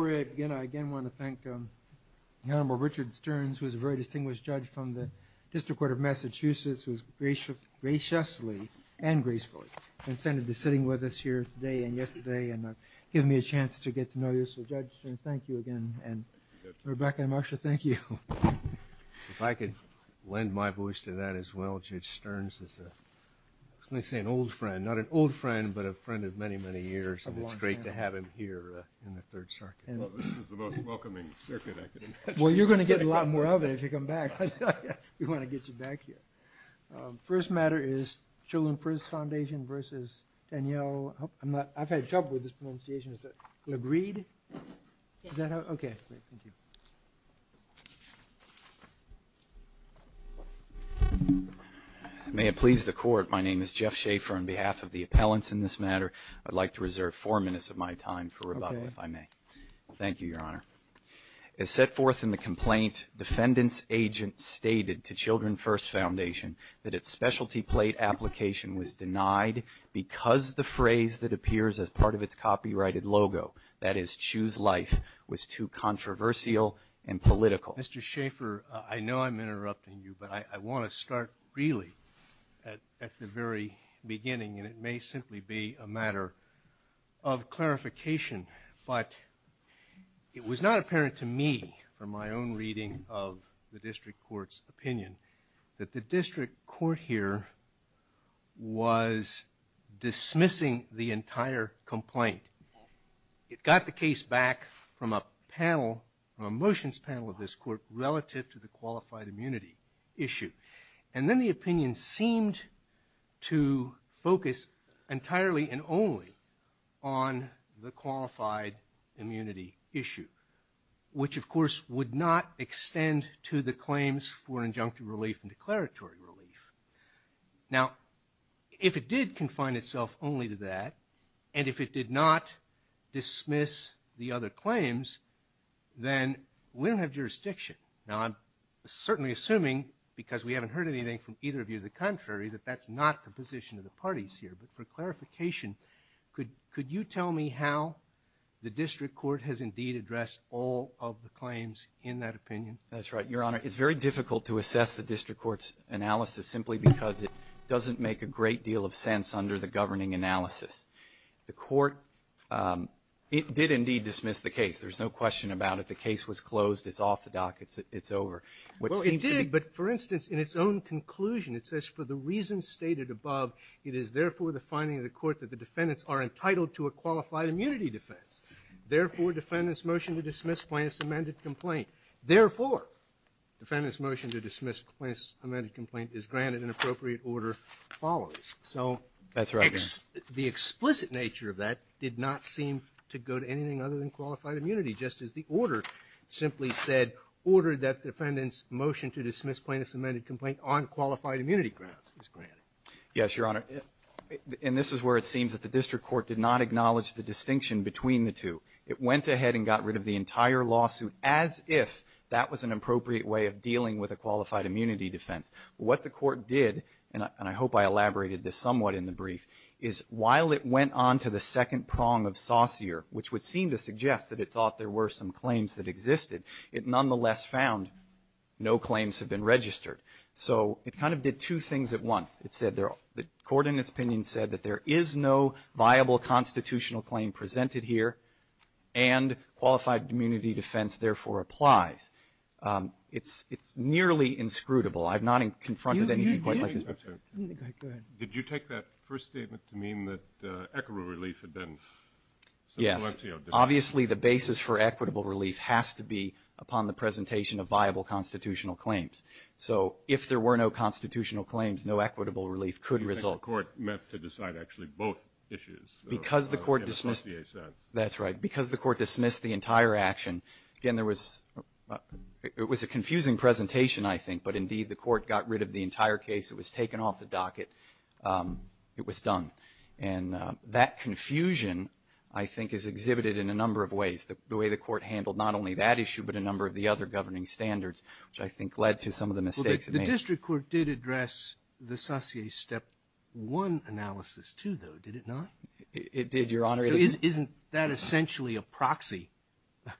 I again want to thank the Honorable Richard Stearns, who is a very distinguished judge from the District Court of Massachusetts, who has graciously and gracefully consented to sitting with us here today and yesterday and giving me a chance to get to know you. So, Judge, thank you again, and Rebecca and Marsha, thank you. If I could lend my voice to that as well, Judge Stearns is, let's say, an old friend. Not an old friend, but a friend of many, many years, and it's great to have him here in the Third Circuit. Well, this is the most welcoming Circuit I've been to. Well, you're going to get a lot more of it if you come back. I thought you'd want to get your back here. First matter is Children's Prison Foundation versus Danielle, I'm not, I've had trouble with this pronunciation, is it Legreide? Yes. Is that how, okay, thank you. May it please the Court, my name is Jeff Schaefer on behalf of the appellants in this matter. I'd like to reserve four minutes of my time for Rebecca, if I may. Thank you, Your Honor. As set forth in the complaint, defendant's agent stated to Children's First Foundation that its specialty plate application was denied because the phrase that appears as part of its copyrighted logo, that is, Choose Life, was too controversial and political. Mr. Schaefer, I know I'm interrupting you, but I want to start really at the very beginning, and it may simply be a matter of clarification, but it was not apparent to me, from my own reading of the district court's opinion, that the district court here was dismissing the entire complaint. It got the case back from a panel, from a motions panel of this court, relative to the qualified immunity issue. And then the opinion seemed to focus entirely and only on the qualified immunity issue, which of course would not extend to the claims for injunctive relief and declaratory relief. Now if it did confine itself only to that, and if it did not dismiss the other claims, then we don't have jurisdiction. Now I'm certainly assuming, because we haven't heard anything from either of you, the contrary, that that's not the position of the parties here, but for clarification, could you tell me how the district court has indeed addressed all of the claims in that opinion? That's right, Your Honor. It's very difficult to assess the district court's analysis simply because it doesn't make a great deal of sense under the governing analysis. The court, it did indeed dismiss the case, there's no question about it. The case was closed, it's off the dock, it's over. Well it did, but for instance, in its own conclusion, it says, for the reasons stated above, it is therefore the finding of the court that the defendants are entitled to a qualified immunity defense. Therefore defendant's motion to dismiss plaintiff's amended complaint, therefore defendant's motion to dismiss plaintiff's amended complaint is granted in appropriate order follows. So the explicit nature of that did not seem to go to anything other than qualified immunity, just as the order simply said, order that defendant's motion to dismiss plaintiff's amended complaint on qualified immunity grounds is granted. Yes, Your Honor, and this is where it seems that the district court did not acknowledge the distinction between the two. It went ahead and got rid of the entire lawsuit as if that was an appropriate way of dealing with a qualified immunity defense. What the court did, and I hope I elaborated this somewhat in the brief, is while it went on to the second prong of Saucier, which would seem to suggest that it thought there were some claims that existed, it nonetheless found no claims had been registered. So it kind of did two things at once. It said the court in its opinion said that there is no viable constitutional claim presented here and qualified immunity defense therefore applies. It's nearly inscrutable. Did you take that first statement to mean that equitable relief had been... Yes, obviously the basis for equitable relief has to be upon the presentation of viable constitutional claims. So if there were no constitutional claims, no equitable relief could result. The court meant to decide actually both issues. Because the court dismissed... That's right, because the court dismissed the entire action, again, it was a confusing presentation I think, but indeed the court got rid of the entire case. It was taken off the docket. It was done. And that confusion, I think, is exhibited in a number of ways. The way the court handled not only that issue, but a number of the other governing standards, which I think led to some of the mistakes it made. The district court did address the Saucier Step 1 analysis too, though, did it not? It did, Your Honor. So isn't that essentially a proxy,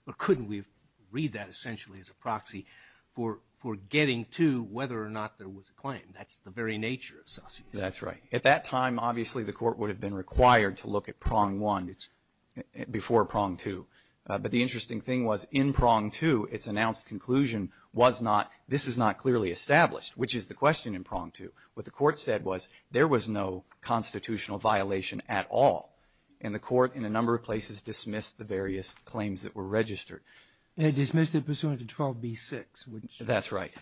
or couldn't we read that essentially as a proxy for getting to whether or not there was a claim? That's the very nature of Saucier. That's right. At that time, obviously, the court would have been required to look at Prong 1 before Prong 2. But the interesting thing was in Prong 2, its announced conclusion was not, this is not clearly established, which is the question in Prong 2. What the court said was there was no constitutional violation at all. And the court in a number of places dismissed the various claims that were registered. They dismissed it pursuant to 12B6. That's right.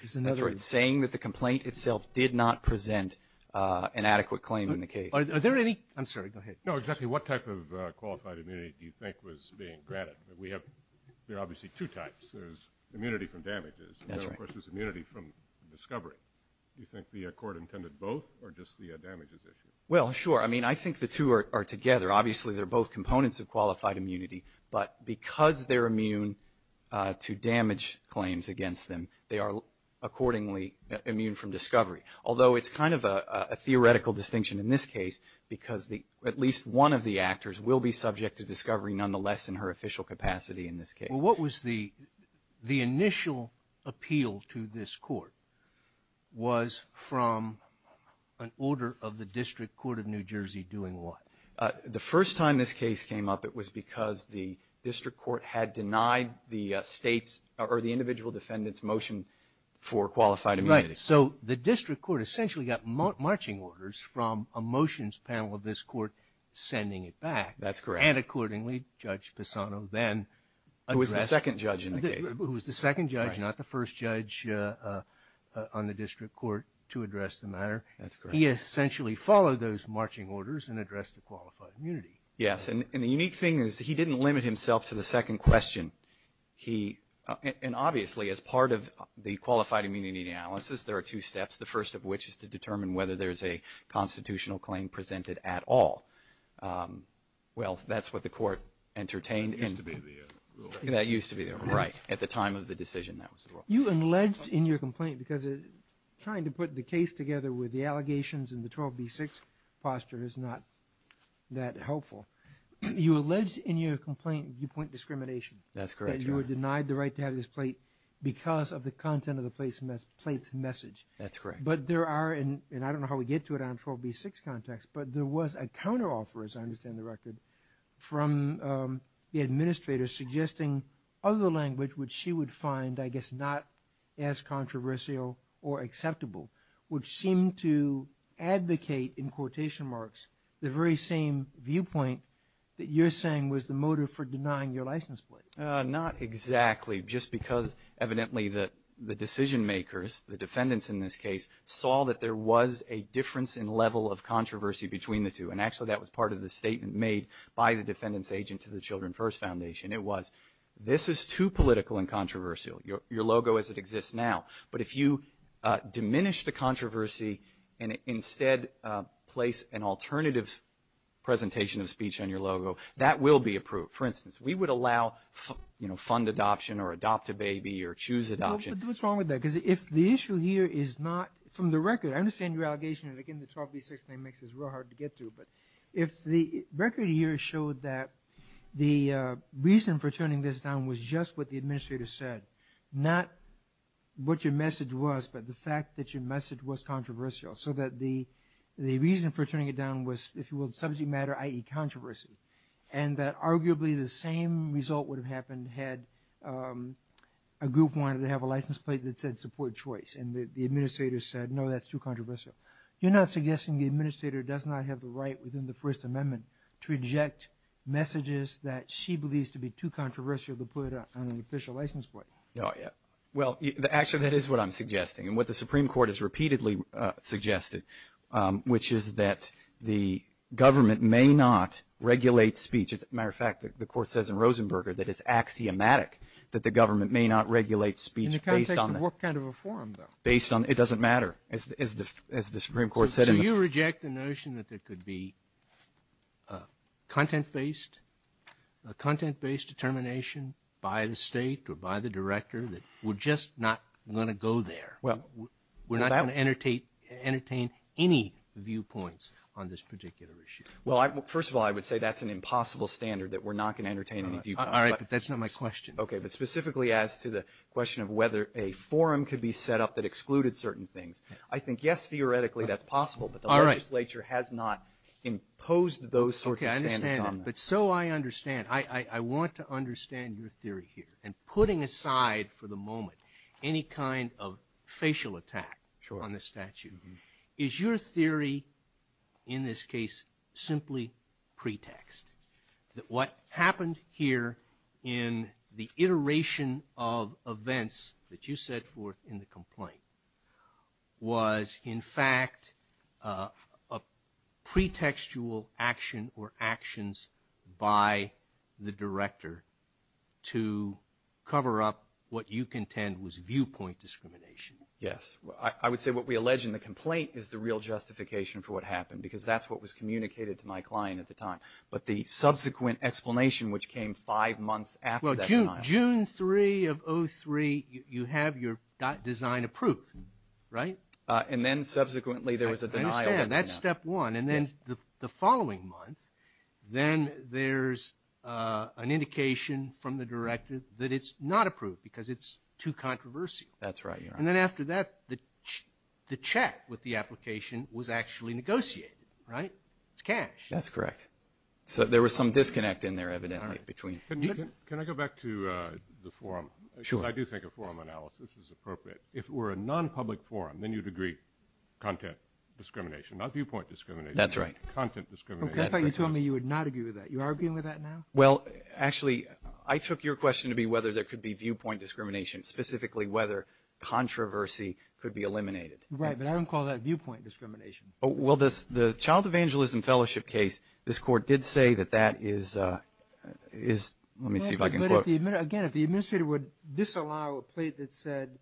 Saying that the complaint itself did not present an adequate claim in the case. Are there any? I'm sorry, go ahead. No, exactly. What type of qualified immunity do you think was being granted? We have obviously two types. There's immunity from damages. And then, of course, there's immunity from discovery. Do you think the court intended both, or just the damages issue? Well, sure. I mean, I think the two are together. Obviously, they're both components of qualified immunity. But because they're immune to damage claims against them, they are accordingly immune from discovery. Although it's kind of a theoretical distinction in this case, because at least one of the actors will be subject to discovery nonetheless in her official capacity in this case. Well, what was the initial appeal to this court? Was from an order of the District Court of New Jersey doing what? The first time this case came up, it was because the District Court had denied the state's or the individual defendant's motion for qualified immunity. Right. So the District Court essentially got marching orders from a motions panel of this court sending it back. That's correct. And accordingly, Judge Pisano then addressed. Who was the second judge in the case. Who was the second judge, not the first judge on the District Court to address the matter. That's correct. He essentially followed those marching orders and addressed the qualified immunity. Yes. And the unique thing is he didn't limit himself to the second question. And obviously, as part of the qualified immunity analysis, there are two steps, the first of which is to determine whether there's a constitutional claim presented at all. Well, that's what the court entertained. That used to be there. That used to be there. Right. At the time of the decision that was brought. You alleged in your complaint because trying to put the case together with the allegations and the 12B6 foster is not that helpful. You alleged in your complaint you point discrimination. That's correct. That you were denied the right to have this plate because of the content of the plate's message. That's correct. But there are, and I don't know how we get to it on 12B6 context, but there was a counteroffer, as I understand the record, from the administrator suggesting other language which she would find, I guess, not as controversial or acceptable, which seemed to advocate, in quotation marks, the very same viewpoint that you're saying was the motive for denying your license plate. Not exactly. Just because evidently the decision makers, the defendants in this case, saw that there was a difference in level of controversy between the two, and actually that was part of the statement made by the defendant's agent to the Children First Foundation. It was, this is too political and controversial, your logo as it exists now, but if you diminish the controversy and instead place an alternative presentation of speech on your logo, that will be approved. For instance, we would allow fund adoption or adopt a baby or choose adoption. What's wrong with that? Because if the issue here is not, from the record, I understand your allegation, and again, the 12B6 mix is real hard to get to, but if the record here showed that the reason for turning this down was just what the administrator said, not what your message was, but the fact that your message was controversial, so that the reason for turning it down was, if you will, subject matter, i.e., controversy, and that arguably the same result would have happened had a group wanted to have a license plate that said support choice, and the administrator said, no, that's too controversial. You're not suggesting the administrator does not have the right within the First Amendment to reject messages that she believes to be too controversial to put on an official license plate? No, yeah. Well, actually that is what I'm suggesting, and what the Supreme Court has repeatedly suggested, which is that the government may not regulate speech. As a matter of fact, the court says in Rosenberger that it's axiomatic that the government may not regulate speech based on that. What kind of a forum, though? It doesn't matter, as the Supreme Court said. So you reject the notion that there could be a content-based determination by the state or by the director that we're just not going to go there? Well, we're not going to entertain any viewpoints on this particular issue. Well, first of all, I would say that's an impossible standard that we're not going to entertain any viewpoints. All right, but that's not my question. Okay, but specifically as to the question of whether a forum could be set up that excluded certain things, I think yes, theoretically that's possible, but the legislature has not imposed those sorts of standards on us. Okay, I understand, but so I understand. I want to understand your theory here. And putting aside for the moment any kind of facial attack on the statute, is your theory in this case simply pretext? What happened here in the iteration of events that you set forth in the complaint was, in fact, a pretextual action or actions by the director to cover up what you contend was viewpoint discrimination. Yes, I would say what we allege in the complaint is the real justification for what happened because that's what was communicated to my client at the time. But the subsequent explanation, which came five months after that. Well, June 3 of 03, you have your design approved, right? And then subsequently there was a denial. That's step one. And then the following month, then there's an indication from the directive that it's not approved because it's too controversial. That's right. And then after that, the check with the application was actually negotiated, right? It's cash. That's correct. So there was some disconnect in there evidently. Can I go back to the forum? Sure. I do think a forum analysis is appropriate. If it were a non-public forum, then you'd agree content discrimination, not viewpoint discrimination. That's right. Content discrimination. I thought you told me you would not agree with that. You're arguing with that now? Well, actually, I took your question to be whether there could be viewpoint discrimination, specifically whether controversy could be eliminated. Right, but I don't call that viewpoint discrimination. Well, the Child Evangelism Fellowship case, this court did say that that is, let me see if I can quote. Again, if the administrator would disallow a plate that said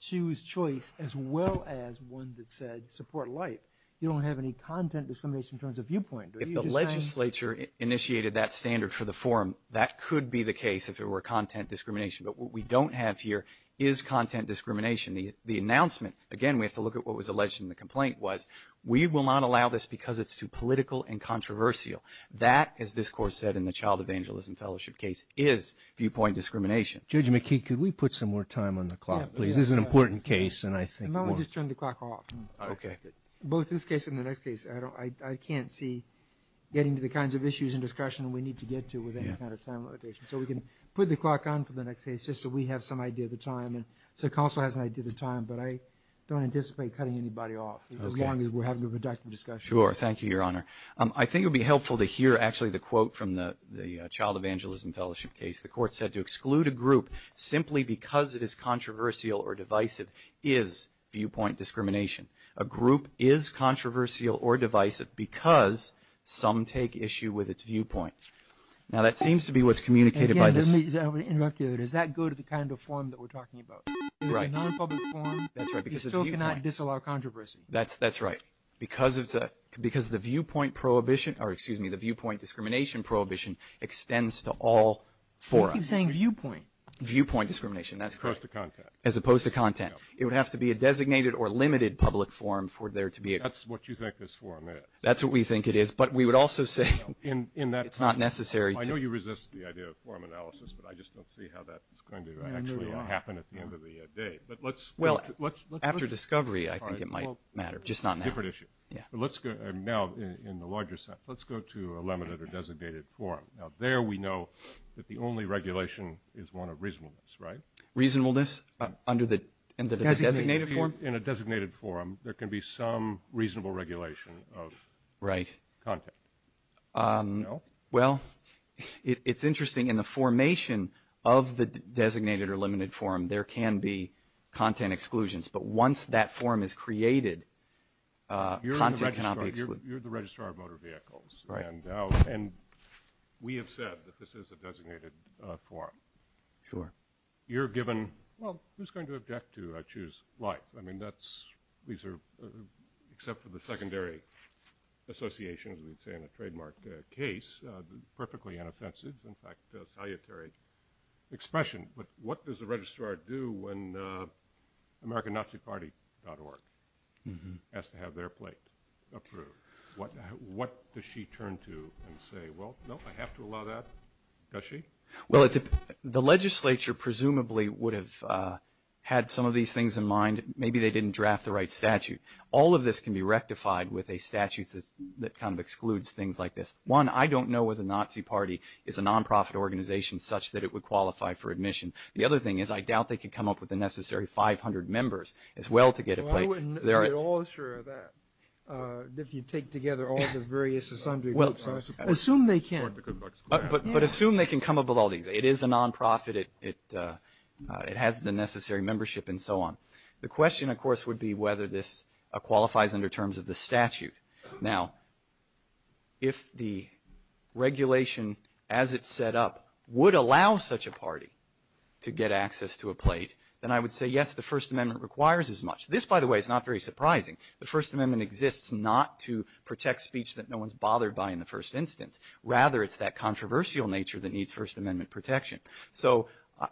choose choice as well as one that said support life, you don't have any content discrimination in terms of viewpoint. If the legislature initiated that standard for the forum, that could be the case if it were content discrimination. But what we don't have here is content discrimination. The announcement, again, we have to look at what was alleged in the complaint, was we will not allow this because it's too political and controversial. That, as this court said in the Child Evangelism Fellowship case, is viewpoint discrimination. Judge McKee, could we put some more time on the clock, please? This is an important case, and I think we'll – No, I'll just turn the clock off. Okay. Both this case and the next case, I can't see getting to the kinds of issues and discussion we need to get to with any kind of time limitation. So we can put the clock on for the next case just so we have some idea of the time. And the counsel has an idea of the time, but I don't anticipate cutting anybody off as long as we're having a productive discussion. Sure. Thank you, Your Honor. I think it would be helpful to hear actually the quote from the Child Evangelism Fellowship case. The court said to exclude a group simply because it is controversial or divisive is viewpoint discrimination. A group is controversial or divisive because some take issue with its viewpoint. Now, that seems to be what's communicated by this. Again, let me interrupt you. Does that go to the kind of form that we're talking about? Right. If it's not a public forum, you still cannot disallow controversy. That's right, because the viewpoint prohibition – or, excuse me, the viewpoint discrimination prohibition extends to all forums. You keep saying viewpoint. Viewpoint discrimination, that's correct. As opposed to content. As opposed to content. It would have to be a designated or limited public forum for there to be a – That's what you think this forum is. That's what we think it is. But we would also say it's not necessary. I know you resist the idea of forum analysis, but I just don't see how that's going to actually happen at the end of the day. After discovery, I think it might matter, just not now. Different issue. Now, in the larger sense, let's go to a limited or designated forum. Now, there we know that the only regulation is one of reasonableness, right? Reasonableness under the designated form? In a designated forum, there can be some reasonable regulation of content. Well, it's interesting. In the formation of the designated or limited forum, there can be content exclusions. But once that forum is created, content cannot be excluded. You're the registrar of motor vehicles, and we have said that this is a designated forum. Sure. You're given – well, who's going to object to choose life? I mean, that's – these are – except for the secondary association, as we'd say in a trademark case, perfectly inoffensive. In fact, a salutary expression. But what does the registrar do when AmericanNaziParty.org has to have their plate observed? What does she turn to and say, well, no, I have to allow that? Does she? Well, the legislature presumably would have had some of these things in mind. Maybe they didn't draft the right statute. All of this can be rectified with a statute that kind of excludes things like this. One, I don't know whether the Nazi Party is a nonprofit organization such that it would qualify for admission. The other thing is I doubt they could come up with the necessary 500 members as well to get it right. They're all sure of that, if you take together all the various assembly groups, I suppose. Assume they can. But assume they can come up with all these. It is a nonprofit. It has the necessary membership and so on. The question, of course, would be whether this qualifies under terms of the statute. Now, if the regulation as it's set up would allow such a party to get access to a plate, then I would say, yes, the First Amendment requires as much. This, by the way, is not very surprising. The First Amendment exists not to protect speech that no one's bothered by in the first instance, rather it's that controversial nature that needs First Amendment protection. So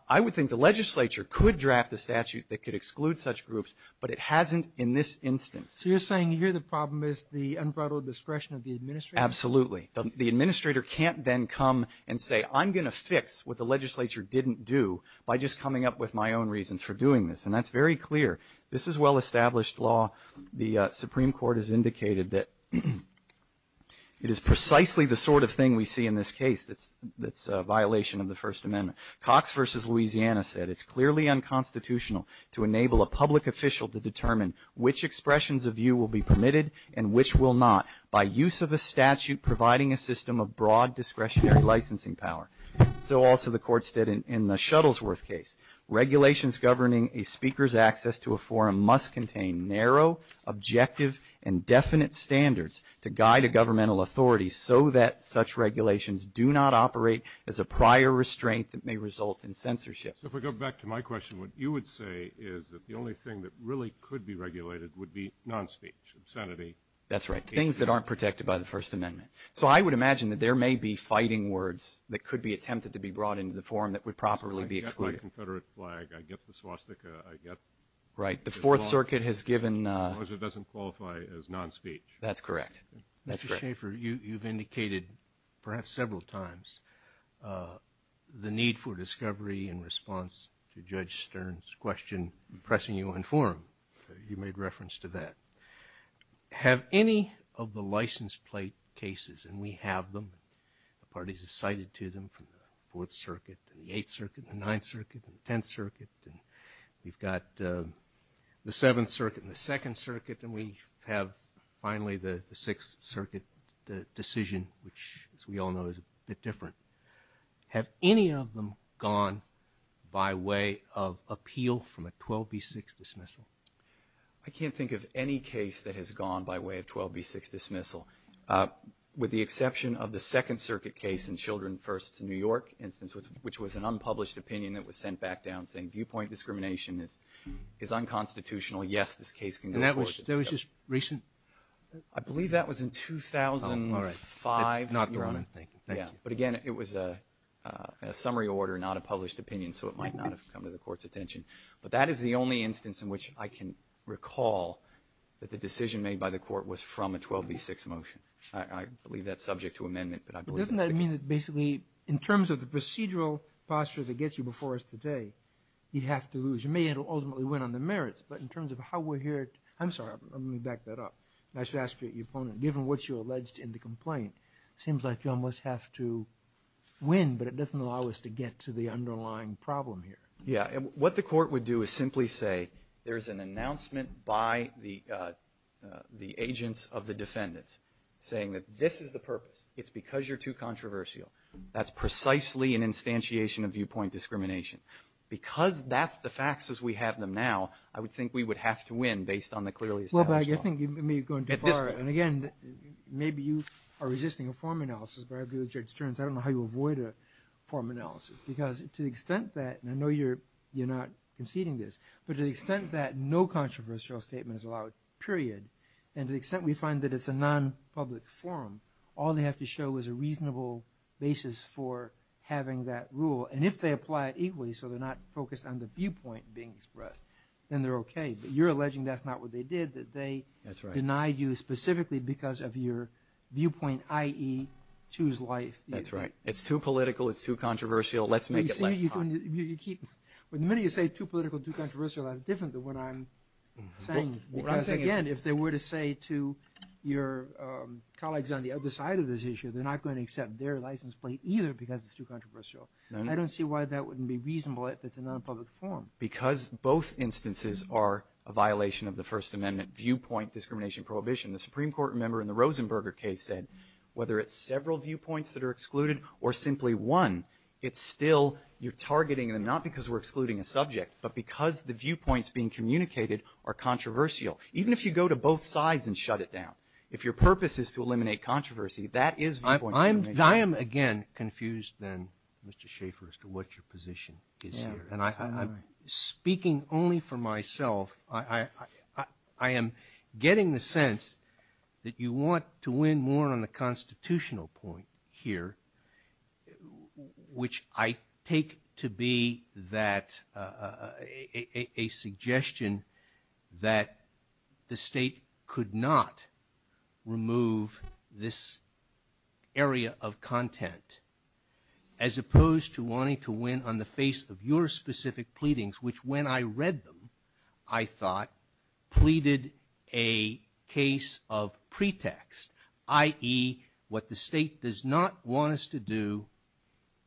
I would think the legislature could draft a statute that could exclude such groups, but it hasn't in this instance. So you're saying here the problem is the unbridled discretion of the administrator? Absolutely. The administrator can't then come and say, I'm going to fix what the legislature didn't do by just coming up with my own reasons for doing this. And that's very clear. This is well-established law. The Supreme Court has indicated that it is precisely the sort of thing we see in this case that's a violation of the First Amendment. Cox v. Louisiana said, it's clearly unconstitutional to enable a public official to determine which expressions of view will be permitted and which will not by use of a statute providing a system of broad discretionary licensing power. So also the court said in the Shuttlesworth case, regulations governing a speaker's access to a forum must contain narrow, objective, and definite standards to guide a governmental authority so that such regulations do not operate as a prior restraint that may result in censorship. If we go back to my question, what you would say is that the only thing that really could be regulated would be non-speech, insanity. That's right, things that aren't protected by the First Amendment. So I would imagine that there may be fighting words that could be attempted to be brought into the forum that would probably be excluded. If I get my Confederate flag, I get the swastika, I get. Right, the Fourth Circuit has given. Unless it doesn't qualify as non-speech. That's correct. Mr. Schaffer, you've indicated perhaps several times the need for discovery in response to Judge Stern's question, pressing you on forum. You made reference to that. Have any of the license plate cases, and we have them, parties have cited to them from the Fourth Circuit, the Eighth Circuit, the Ninth Circuit, the Tenth Circuit, and we've got the Seventh Circuit and the Second Circuit, and we have finally the Sixth Circuit decision, which, as we all know, is a bit different. Have any of them gone by way of appeal from a 12B6 dismissal? I can't think of any case that has gone by way of 12B6 dismissal, with the exception of the Second Circuit case in Children First in New York, which was an unpublished opinion that was sent back down saying viewpoint discrimination is unconstitutional. Yes, this case can go to court. And that was just recent? I believe that was in 2005. Not more than that. But, again, it was a summary order, not a published opinion, so it might not have come to the Court's attention. But that is the only instance in which I can recall that the decision made by the Court was from a 12B6 motion. I believe that's subject to amendment. Doesn't that mean that basically, in terms of the procedural posture that gets you before us today, you'd have to lose? You may ultimately win on the merits, but in terms of how we're here – I'm sorry, let me back that up. I should ask you, given what you alleged in the complaint, it seems like you almost have to win, but it doesn't allow us to get to the underlying problem here. Yes, and what the Court would do is simply say there's an announcement by the agents of the defendants saying that this is the purpose. It's because you're too controversial. That's precisely an instantiation of viewpoint discrimination. Because that's the facts as we have them now, I would think we would have to win based on the clearly established – Well, but I think you may have gone too far. And, again, maybe you are resisting a form analysis, but I have the objection, I don't know how you avoid a form analysis, because to the extent that – and I know you're not conceding this – but to the extent that no controversial statement is allowed, period, and to the extent we find that it's a non-public forum, all they have to show is a reasonable basis for having that rule. And if they apply it equally so they're not focused on the viewpoint being expressed, then they're okay. But you're alleging that's not what they did, that they denied you specifically because of your viewpoint, i.e., two's life. That's right. It's too political, it's too controversial, let's make it less controversial. When you say too political, too controversial, that's different than what I'm saying. Because, again, if they were to say to your colleagues on the other side of this issue, they're not going to accept their license plate either because it's too controversial. I don't see why that wouldn't be reasonable if it's a non-public forum. Because both instances are a violation of the First Amendment viewpoint discrimination prohibition. The Supreme Court member in the Rosenberger case said, whether it's several viewpoints that are excluded or simply one, it's still you're targeting them not because we're excluding a subject, but because the viewpoints being communicated are controversial. Even if you go to both sides and shut it down, if your purpose is to eliminate controversy, that is the point you're making. I am, again, confused then, Mr. Schaffer, as to what your position is here. And I'm speaking only for myself. I am getting the sense that you want to win more on the constitutional point here, which I take to be a suggestion that the state could not remove this area of content, as opposed to wanting to win on the face of your specific pleadings, which when I read them, I thought, pleaded a case of pretext, i.e., what the state does not want us to do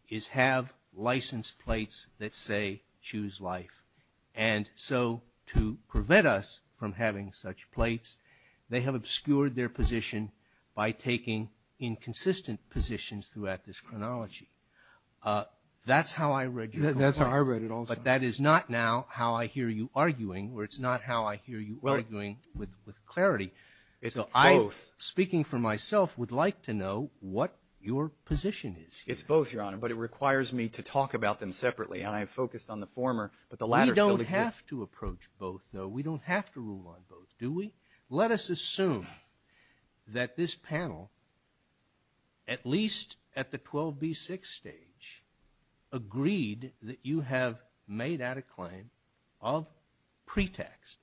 is have license plates that say, choose life. And so to prevent us from having such plates, they have obscured their position by taking inconsistent positions throughout this chronology. That's how I read you. That's how I read it also. But that is not now how I hear you arguing, or it's not how I hear you arguing with clarity. So I, speaking for myself, would like to know what your position is here. It's both, Your Honor, but it requires me to talk about them separately. We don't have to approach both, though. We don't have to rule on both, do we? Let us assume that this panel, at least at the 12B6 stage, agreed that you have made out a claim of pretext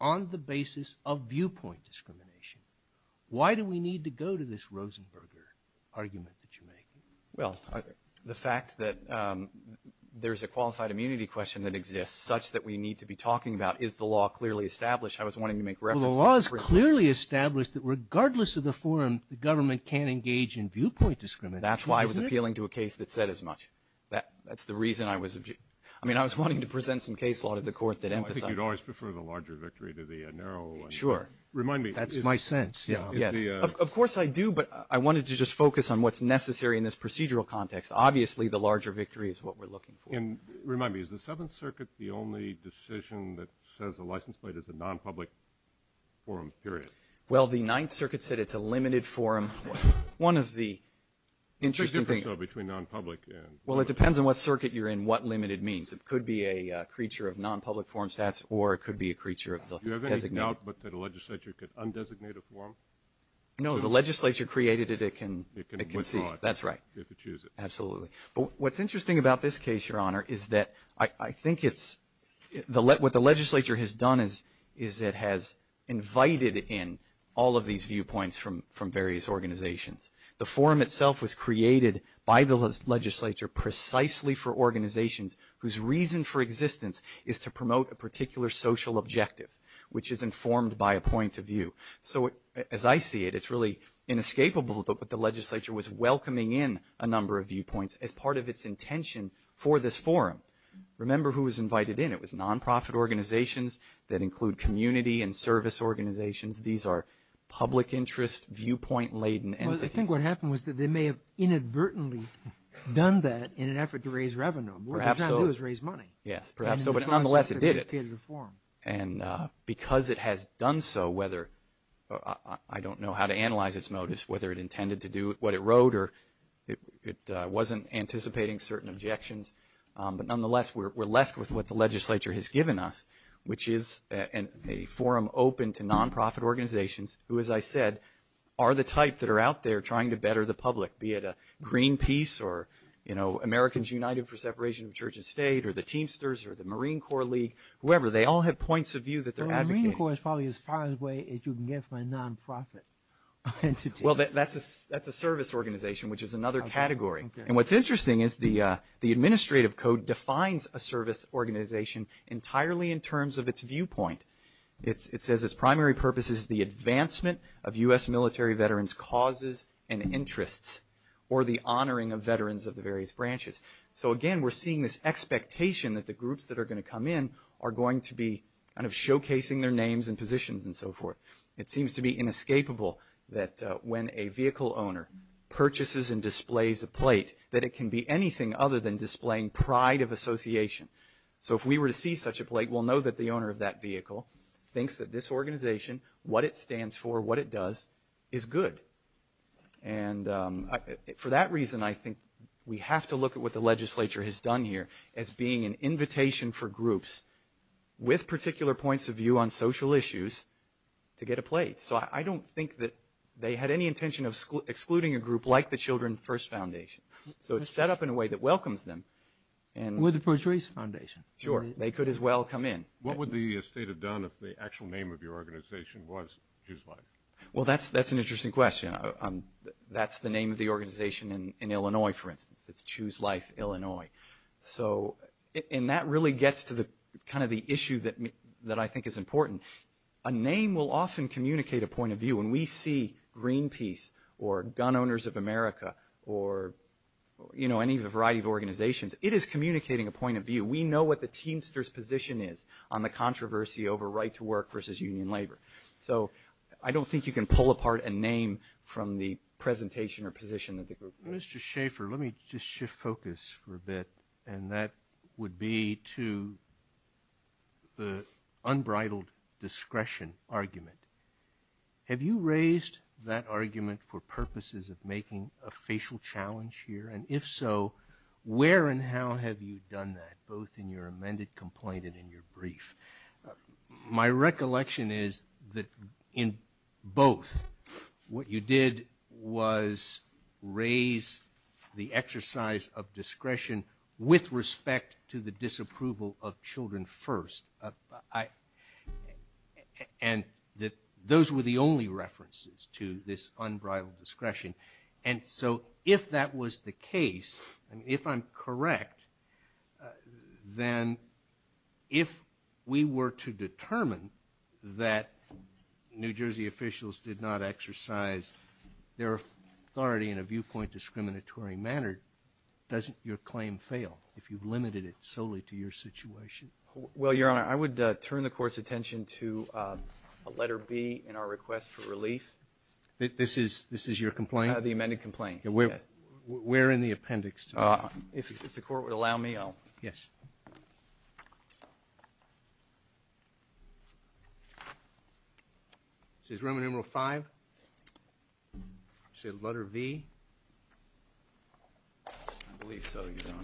on the basis of viewpoint discrimination. Why do we need to go to this Rosenberger argument that you make? Well, the fact that there's a qualified immunity question that exists such that we need to be talking about, is the law clearly established? I was wanting to make reference. The law is clearly established that regardless of the form, the government can engage in viewpoint discrimination. That's why I was appealing to a case that said as much. That's the reason I was objecting. I mean, I was wanting to present some case law to the court that emphasized it. I think you'd always prefer the larger victory to the narrow one. Sure. Remind me. That's my sense. Of course I do, but I wanted to just focus on what's necessary in this procedural context. Obviously, the larger victory is what we're looking for. And remind me. Is the Seventh Circuit the only decision that says the license plate is a non-public forum period? Well, the Ninth Circuit said it's a limited forum. One of the interesting things. So between non-public and public. Well, it depends on what circuit you're in, what limited means. It could be a creature of non-public forum stats or it could be a creature of the designated. Do you have any doubt that the legislature could undesignate a forum? No, the legislature created it. It can choose. That's right. You have to choose it. Absolutely. What's interesting about this case, Your Honor, is that I think it's – what the legislature has done is it has invited in all of these viewpoints from various organizations. The forum itself was created by the legislature precisely for organizations whose reason for existence is to promote a particular social objective, which is informed by a point of view. So as I see it, it's really inescapable that the legislature was welcoming in a number of viewpoints as part of its intention for this forum. Remember who was invited in. It was nonprofit organizations that include community and service organizations. These are public interest viewpoint-laden entities. I think what happened was that they may have inadvertently done that in an effort to raise revenue. What they're trying to do is raise money. Yes, perhaps so. But nonetheless, it did it. And because it has done so, whether – I don't know how to analyze this notice, whether it intended to do what it wrote or it wasn't anticipating certain objections. But nonetheless, we're left with what the legislature has given us, which is a forum open to nonprofit organizations who, as I said, are the type that are out there trying to better the public, be it Greenpeace or Americans United for Separation of Church and State or the Teamsters or the Marine Corps League, whoever. They all have points of view that they're advocating. The Marine Corps is probably as far away as you can get from a nonprofit entity. Well, that's a service organization, which is another category. And what's interesting is the administrative code defines a service organization entirely in terms of its viewpoint. It says its primary purpose is the advancement of U.S. military veterans' causes and interests or the honoring of veterans of the various branches. So, again, we're seeing this expectation that the groups that are going to come in are going to be kind of showcasing their names and positions and so forth. It seems to be inescapable that when a vehicle owner purchases and displays a plate that it can be anything other than displaying pride of association. So if we were to see such a plate, we'll know that the owner of that vehicle thinks that this organization, what it stands for, what it does is good. And for that reason, I think we have to look at what the legislature has done here as being an invitation for groups with particular points of view on social issues to get a plate. So I don't think that they had any intention of excluding a group like the Children First Foundation. So it was set up in a way that welcomes them. With the First Race Foundation. Sure. They could as well come in. What would the state have done if the actual name of your organization was just like that? Well, that's an interesting question. That's the name of the organization in Illinois, for instance. It's Choose Life Illinois. And that really gets to kind of the issue that I think is important. A name will often communicate a point of view. When we see Greenpeace or Gun Owners of America or, you know, any variety of organizations, it is communicating a point of view. We know what the teamster's position is on the controversy over right to work versus union labor. So I don't think you can pull apart a name from the presentation or position of the group. Mr. Schaefer, let me just shift focus for a bit, and that would be to the unbridled discretion argument. Have you raised that argument for purposes of making a facial challenge here? And if so, where and how have you done that, both in your amended complaint and in your brief? My recollection is that in both, what you did was raise the exercise of discretion with respect to the disapproval of children first. And those were the only references to this unbridled discretion. And so if that was the case, and if I'm correct, then if we were to determine that New Jersey officials did not exercise their authority in a viewpoint discriminatory manner, doesn't your claim fail if you've limited it solely to your situation? Well, Your Honor, I would turn the Court's attention to letter B in our request for relief. This is your complaint? The amended complaint. Where in the appendix? If the Court would allow me, I'll... Yes. Is it room number five? Letter B? I believe so, Your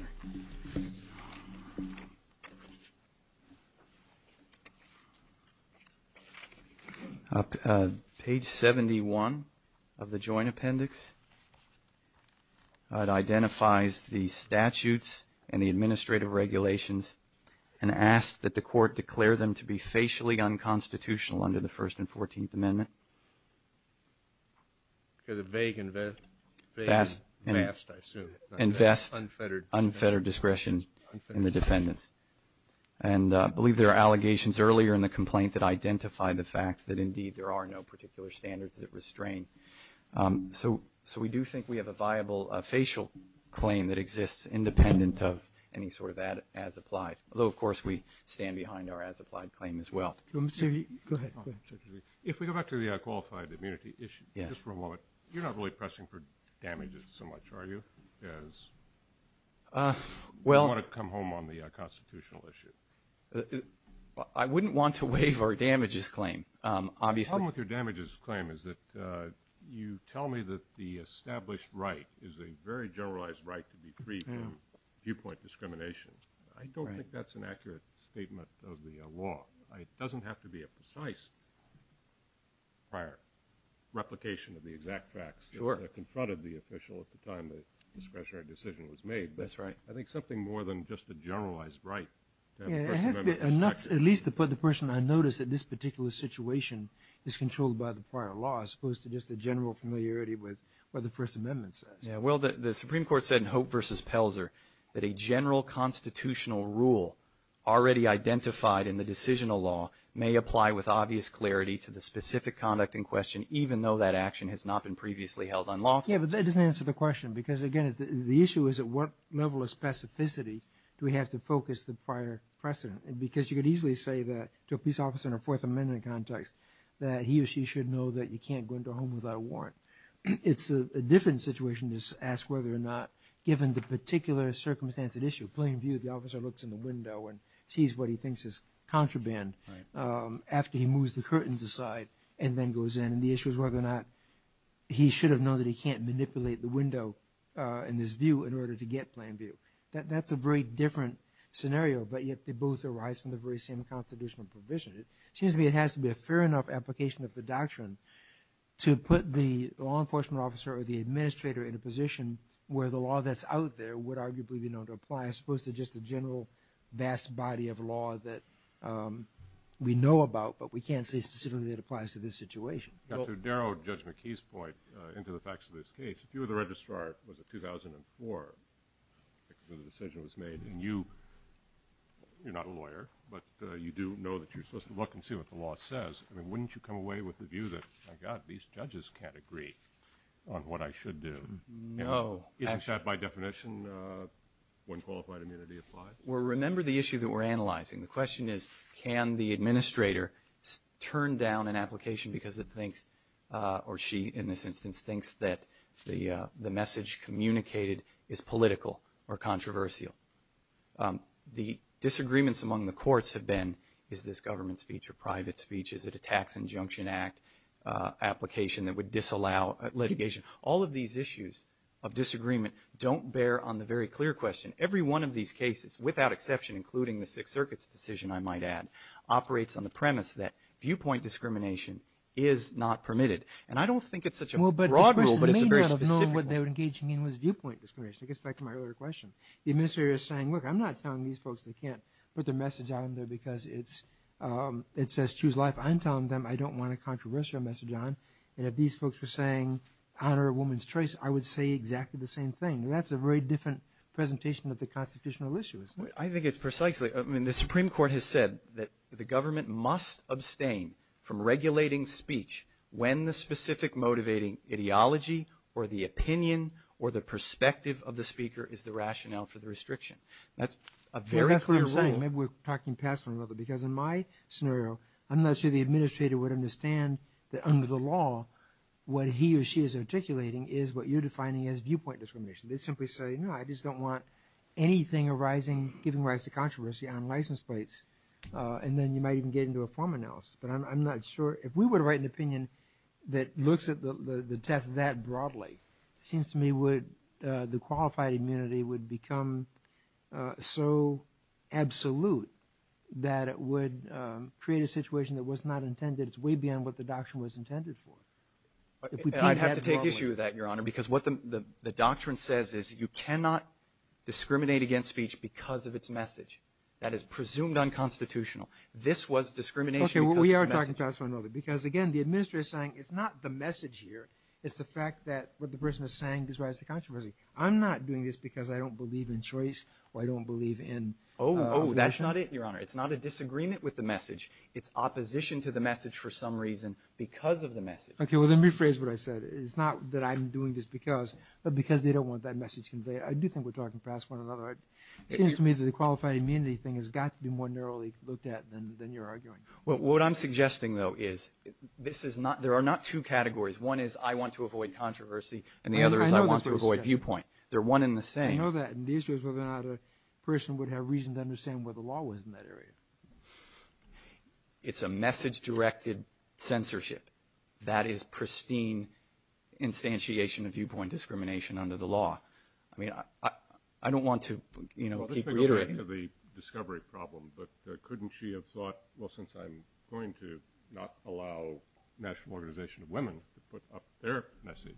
Honor. Page 71 of the joint appendix identifies the statutes and the administrative regulations and asks that the Court declare them to be facially unconstitutional under the First and Fourteenth Amendments. Because it's vague and vast, I assume. Unfettered. Unfettered. And I believe there are allegations earlier in the complaint that identify the fact that, indeed, there are no particular standards that restrain. So we do think we have a viable facial claim that exists independent of any sort of as-applied, although, of course, we stand behind our as-applied claim as well. Go ahead. If we go back to the unqualified immunity issue, just for a moment, you're not really pressing for damages so much, are you? Because you don't want to come home on the constitutional issue. I wouldn't want to waive our damages claim, obviously. The problem with your damages claim is that you tell me that the established right is a very generalized right to be freed from viewpoint discrimination. I don't think that's an accurate statement of the law. It doesn't have to be a precise prior replication of the exact facts in front of the official at the time the discretionary decision was made. That's right. I think something more than just a generalized right. At least the person I noticed in this particular situation is controlled by the prior law as opposed to just a general familiarity with what the First Amendment says. Well, the Supreme Court said in Hope v. Pelzer that a general constitutional rule already identified in the decisional law may apply with obvious clarity to the specific conduct in question, even though that action has not been previously held unlawful. Yes, but that doesn't answer the question because, again, the issue is at what level of specificity do we have to focus the prior precedent? Because you could easily say to a police officer in a Fourth Amendment context that he or she should know that you can't go into a home without a warrant. It's a different situation to ask whether or not, given the particular circumstantial issue, plain view, the officer looks in the window and sees what he thinks is contraband after he moves the curtains aside and then goes in. The issue is whether or not he should have known that he can't manipulate the window in his view in order to get plain view. That's a very different scenario, but yet they both arise from the very same constitutional provision. It seems to me it has to be a fair enough application of the doctrine to put the law enforcement officer or the administrator in a position where the law that's out there would arguably be known to apply as opposed to just the general vast body of law that we know about, but we can't say specifically that it applies to this situation. Dr. Darrow, Judge McKee's point into the facts of this case, if you were the registrar, was it 2004 when the decision was made, and you're not a lawyer, but you do know that you're supposed to look and see what the law says, wouldn't you come away with the view that, my God, these judges can't agree on what I should do? No. Is that by definition when qualified immunity applies? Well, remember the issue that we're analyzing. The question is can the administrator turn down an application because it thinks or she, in this instance, thinks that the message communicated is political or controversial? The disagreements among the courts have been is this government speech or private speech? Is it a tax injunction act application that would disallow litigation? All of these issues of disagreement don't bear on the very clear question. And every one of these cases, without exception, including the Sixth Circuit's decision, I might add, operates on the premise that viewpoint discrimination is not permitted. And I don't think it's such a broad rule, but it's a very specific one. Well, but the person in the main round of knowing what they were engaging in was viewpoint discrimination. It gets back to my earlier question. The administrator is saying, look, I'm not telling these folks they can't put the message on there because it says choose life. I'm telling them I don't want a controversial message on. And if these folks were saying honor a woman's choice, I would say exactly the same thing. And that's a very different presentation of the constitutional issue, isn't it? I think it's precisely – I mean, the Supreme Court has said that the government must abstain from regulating speech when the specific motivating ideology or the opinion or the perspective of the speaker is the rationale for the restriction. That's a very clear saying. Maybe we're talking past one another because in my scenario, I'm not sure the administrator would understand that under the law, what he or she is articulating is what you're defining as viewpoint discrimination. They simply say, no, I just don't want anything giving rise to controversy on license plates. And then you might even get into a form analysis. But I'm not sure – if we were to write an opinion that looks at the test that broadly, it seems to me the qualified immunity would become so absolute that it would create a situation that was not intended. That it's way beyond what the doctrine was intended for. I'd have to take issue with that, Your Honor, because what the doctrine says is you cannot discriminate against speech because of its message. That is presumed unconstitutional. This was discrimination because of the message. Okay, we are talking past one another because, again, the administrator is saying it's not the message here. It's the fact that what the person is saying gives rise to controversy. I'm not doing this because I don't believe in choice or I don't believe in – Oh, that's not it, Your Honor. It's not a disagreement with the message. It's opposition to the message for some reason because of the message. Okay, well, let me rephrase what I said. It's not that I'm doing this because, but because they don't want that message conveyed. I do think we're talking past one another. It seems to me that the qualified immunity thing has got to be more narrowly looked at than you're arguing. What I'm suggesting, though, is this is not – there are not two categories. One is I want to avoid controversy, and the other is I want to avoid viewpoint. They're one and the same. I know that. And the issue is whether or not a person would have reason to understand where the law was in that area. It's a message-directed censorship. That is pristine instantiation of viewpoint discrimination under the law. I mean, I don't want to, you know, keep reiterating it. Let's go back to the discovery problem, but couldn't she have thought, well, since I'm going to not allow the National Organization of Women to put up their message,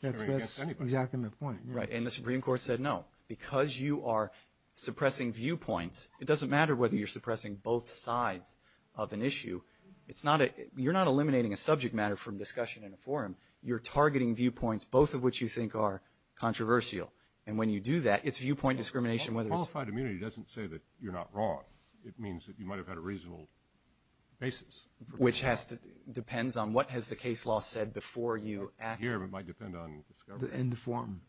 That's exactly my point. Right, and the Supreme Court said no. Because you are suppressing viewpoint, it doesn't matter whether you're suppressing both sides of an issue. It's not a – you're not eliminating a subject matter from discussion in a forum. You're targeting viewpoints, both of which you think are controversial. And when you do that, it's viewpoint discrimination. Qualified immunity doesn't say that you're not wrong. It means that you might have had a reasonable basis. Which has to – depends on what has the case law said before you. Here it might depend on discovery. And the form.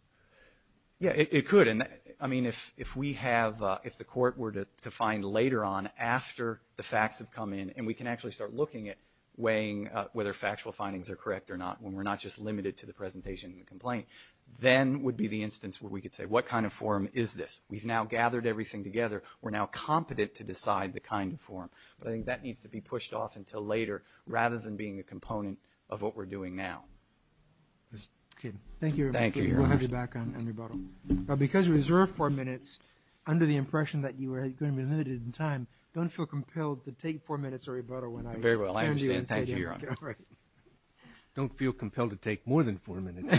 Yeah, it could. I mean, if we have – if the court were to find later on after the facts have come in and we can actually start looking at weighing whether factual findings are correct or not, when we're not just limited to the presentation and the complaint, then would be the instance where we could say, what kind of form is this? We've now gathered everything together. We're now competent to decide the kind of form. But I think that needs to be pushed off until later rather than being a component of what we're doing now. Thank you. Thank you, Your Honor. We'll have you back on rebuttal. Because we reserved four minutes, under the impression that you were going to be limited in time, don't feel compelled to take four minutes of rebuttal. Very well. I understand. Thank you, Your Honor. Don't feel compelled to take more than four minutes.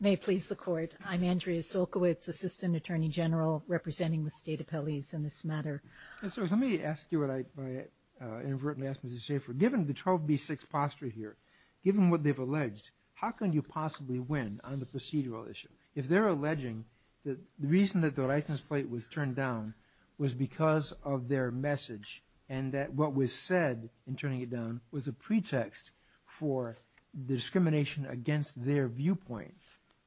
May it please the Court. I'm Andrea Silkowitz, Assistant Attorney General, representing the State Appellees in this matter. Let me ask you what I inadvertently asked Ms. Schaefer. Given the 12B6 posture here, given what they've alleged, how can you possibly win on the procedural issue? If they're alleging that the reason that the license plate was turned down was because of their message and that what was said in turning it down was a pretext for discrimination against their viewpoint,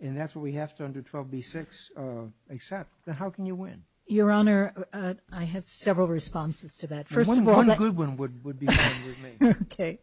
and that's what we have to under 12B6 accept, then how can you win? Your Honor, I have several responses to that. One good one would be the one you've made. Okay.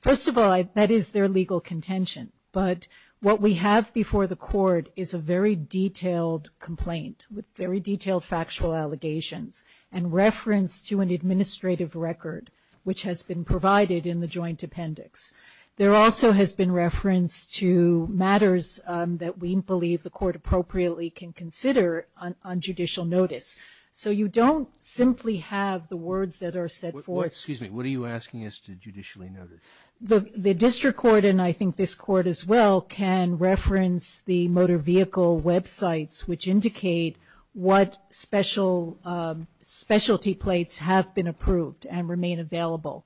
First of all, that is their legal contention. But what we have before the Court is a very detailed complaint with very detailed factual allegations and reference to an administrative record, which has been provided in the joint appendix. There also has been reference to matters that we believe the Court appropriately can consider on judicial notice. So you don't simply have the words that are set forth. Excuse me. What are you asking us to judicially notice? The District Court, and I think this Court as well, can reference the motor vehicle websites, which indicate what specialty plates have been approved and remain available.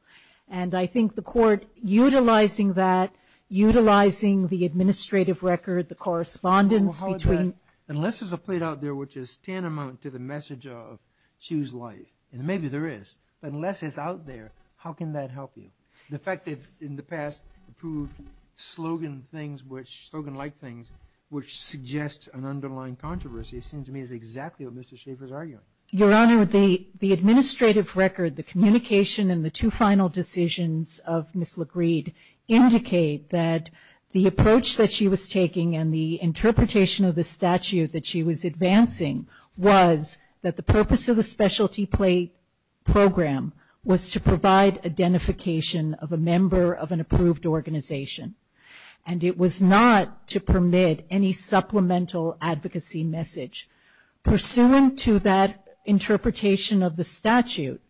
And I think the Court utilizing that, utilizing the administrative record, the correspondence between... Unless there's a plate out there which is tantamount to the message of choose life, and maybe there is, unless it's out there, how can that help you? The fact that in the past approved slogan-like things which suggest an underlying controversy seems to me is exactly what Mr. Schaffer is arguing. Your Honor, the administrative record, the communication, and the two final decisions of Ms. LaGreed indicate that the approach that she was taking and the interpretation of the statute that she was advancing was that the purpose of the specialty plate program was to provide identification of a member of an approved organization, and it was not to permit any supplemental advocacy message. Pursuant to that interpretation of the statute,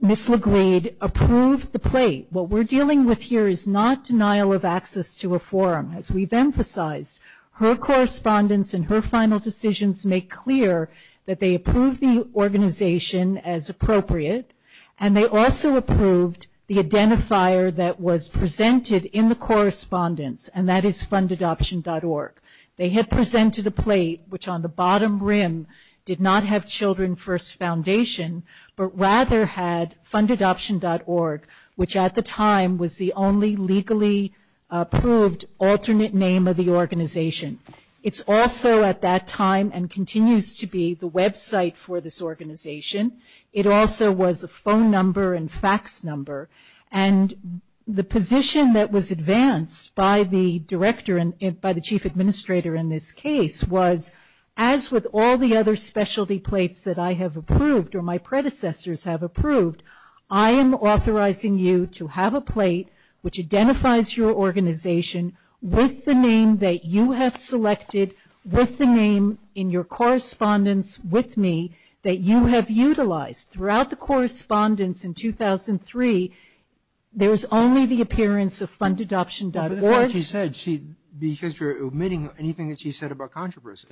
Ms. LaGreed approved the plate. What we're dealing with here is not denial of access to a forum. As we've emphasized, her correspondence and her final decisions make clear that they approved the organization as appropriate, and they also approved the identifier that was presented in the correspondence, and that is FundAdoption.org. They had presented a plate which on the bottom rim did not have Children First Foundation but rather had FundAdoption.org, which at the time was the only legally approved alternate name of the organization. It's also at that time and continues to be the website for this organization. It also was a phone number and fax number, and the position that was advanced by the director and by the chief administrator in this case was, as with all the other specialty plates that I have approved or my predecessors have approved, I am authorizing you to have a plate which identifies your organization with the name that you have selected, with the name in your correspondence with me that you have utilized. Throughout the correspondence in 2003, there was only the appearance of FundAdoption.org. That's what she said because you're omitting anything that she said about controversy.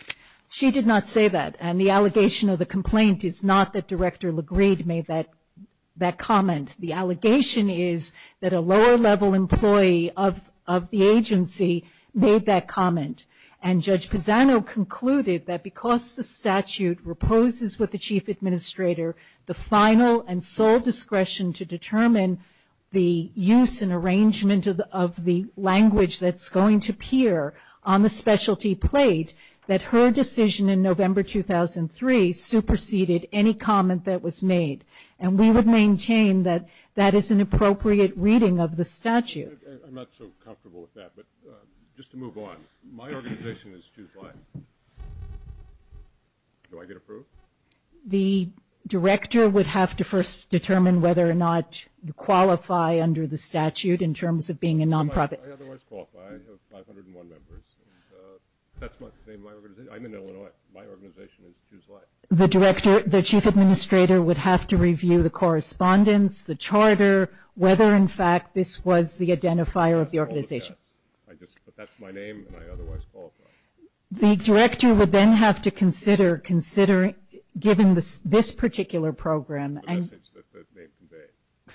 She did not say that, and the allegation of the complaint is not that Director LaGreed made that comment. The allegation is that a lower-level employee of the agency made that comment, and Judge Padano concluded that because the statute reposes with the chief administrator the final and sole discretion to determine the use and arrangement of the language that's going to appear on the specialty plate, that her decision in November 2003 superseded any comment that was made, and we would maintain that that is an appropriate reading of the statute. I'm not so comfortable with that, but just to move on. My organization is 2-5. Do I get approved? The director would have to first determine whether or not you qualify under the statute in terms of being a nonprofit. I otherwise qualify. I have 501 members, and that's my organization. I'm in Illinois. My organization is 2-5. The chief administrator would have to review the correspondence, the charter, whether, in fact, this was the identifier of the organization. But that's my name, and I otherwise qualify. The director would then have to consider, given this particular program.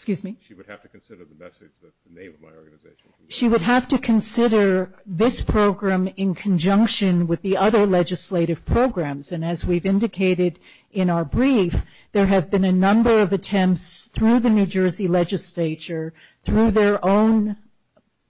She would have to consider the message that's the name of my organization. She would have to consider this program in conjunction with the other legislative programs, and as we've indicated in our brief, there have been a number of attempts through the New Jersey legislature, through their own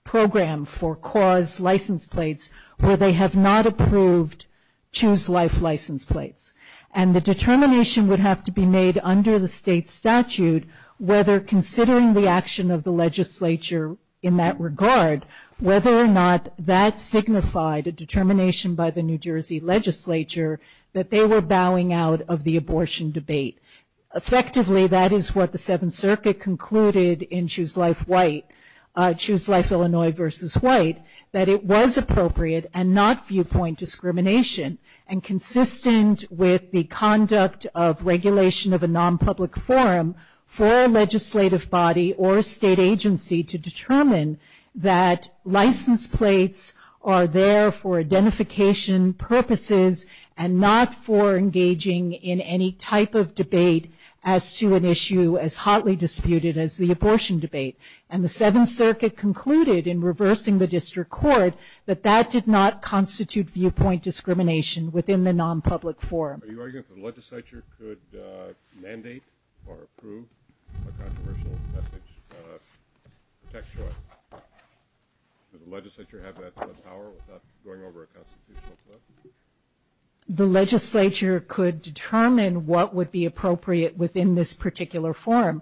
program for CAUSE license plates, where they have not approved Choose Life license plates. And the determination would have to be made under the state statute, whether considering the action of the legislature in that regard, whether or not that signified a determination by the New Jersey legislature that they were bowing out of the abortion debate. Effectively, that is what the Seventh Circuit concluded in Choose Life Illinois v. White, that it was appropriate and not viewpoint discrimination and consistent with the conduct of regulation of a non-public forum for a legislative body or a state agency to determine that license plates are there for identification purposes and not for engaging in any type of debate as to an issue as hotly disputed as the abortion debate. And the Seventh Circuit concluded in reversing the district court that that did not constitute viewpoint discrimination within the non-public forum. Are you arguing that the legislature could mandate or approve a controversial message about a protection law? Would the legislature have that power without going over a constitutional court? The legislature could determine what would be appropriate within this particular forum.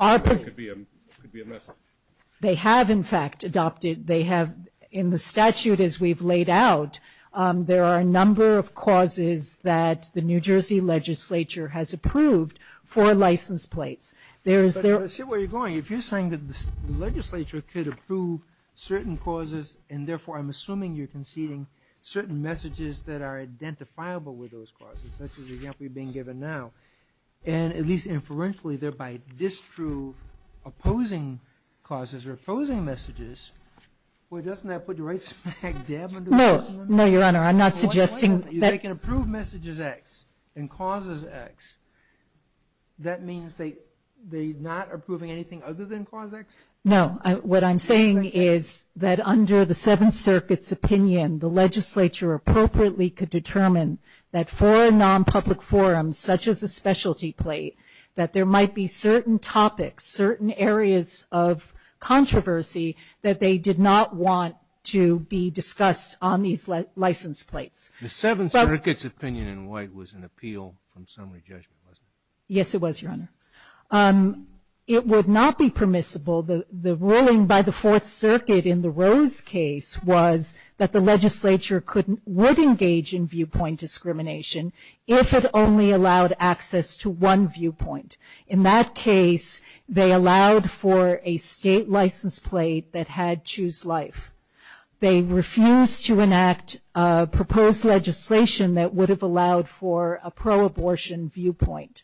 It could be a message. They have, in fact, adopted. They have in the statute as we've laid out, that there are a number of causes that the New Jersey legislature has approved for license plates. But I see where you're going. If you're saying that the legislature could approve certain causes and therefore I'm assuming you're conceding certain messages that are identifiable with those causes, such as the example you're being given now, and at least inferentially thereby disprove opposing causes or opposing messages, Well, doesn't that put you right smack dab under the bus? No, no, Your Honor. I'm not suggesting that. If they can approve messages X and causes X, that means they're not approving anything other than causes X? No. What I'm saying is that under the Seventh Circuit's opinion, the legislature appropriately could determine that for a non-public forum, such as a specialty plate, that there might be certain topics, certain areas of controversy that they did not want to be discussed on these license plates. The Seventh Circuit's opinion in white was an appeal from summary judgment, wasn't it? Yes, it was, Your Honor. It would not be permissible. The ruling by the Fourth Circuit in the Rose case was that the legislature would engage in viewpoint discrimination if it only allowed access to one viewpoint. In that case, they allowed for a state license plate that had choose life. They refused to enact proposed legislation that would have allowed for a pro-abortion viewpoint.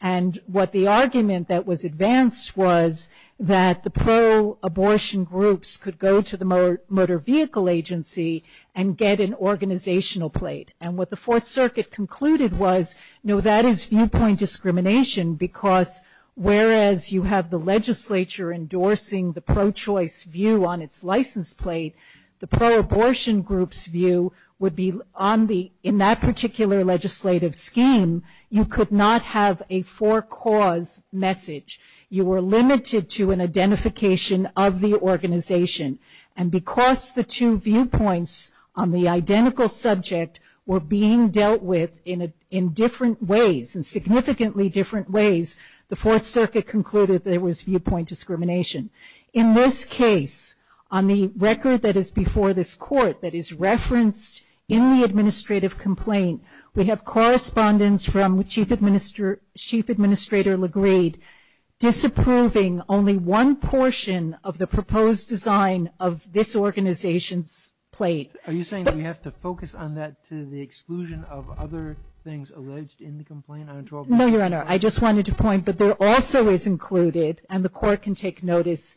And what the argument that was advanced was that the pro-abortion groups could go to the motor vehicle agency and get an organizational plate. And what the Fourth Circuit concluded was, you know, that is viewpoint discrimination because whereas you have the legislature endorsing the pro-choice view on its license plate, the pro-abortion group's view would be in that particular legislative scheme, you could not have a for-cause message. You were limited to an identification of the organization. And because the two viewpoints on the identical subject were being dealt with in different ways, in significantly different ways, the Fourth Circuit concluded that it was viewpoint discrimination. In this case, on the record that is before this court that is referenced in the administrative complaint, we have correspondence from Chief Administrator LaGreed disapproving only one portion of the proposed design of this organization's plate. Are you saying that we have to focus on that to the exclusion of other things alleged in the complaint? No, Your Honor. I just wanted to point that there also is included, and the court can take notice,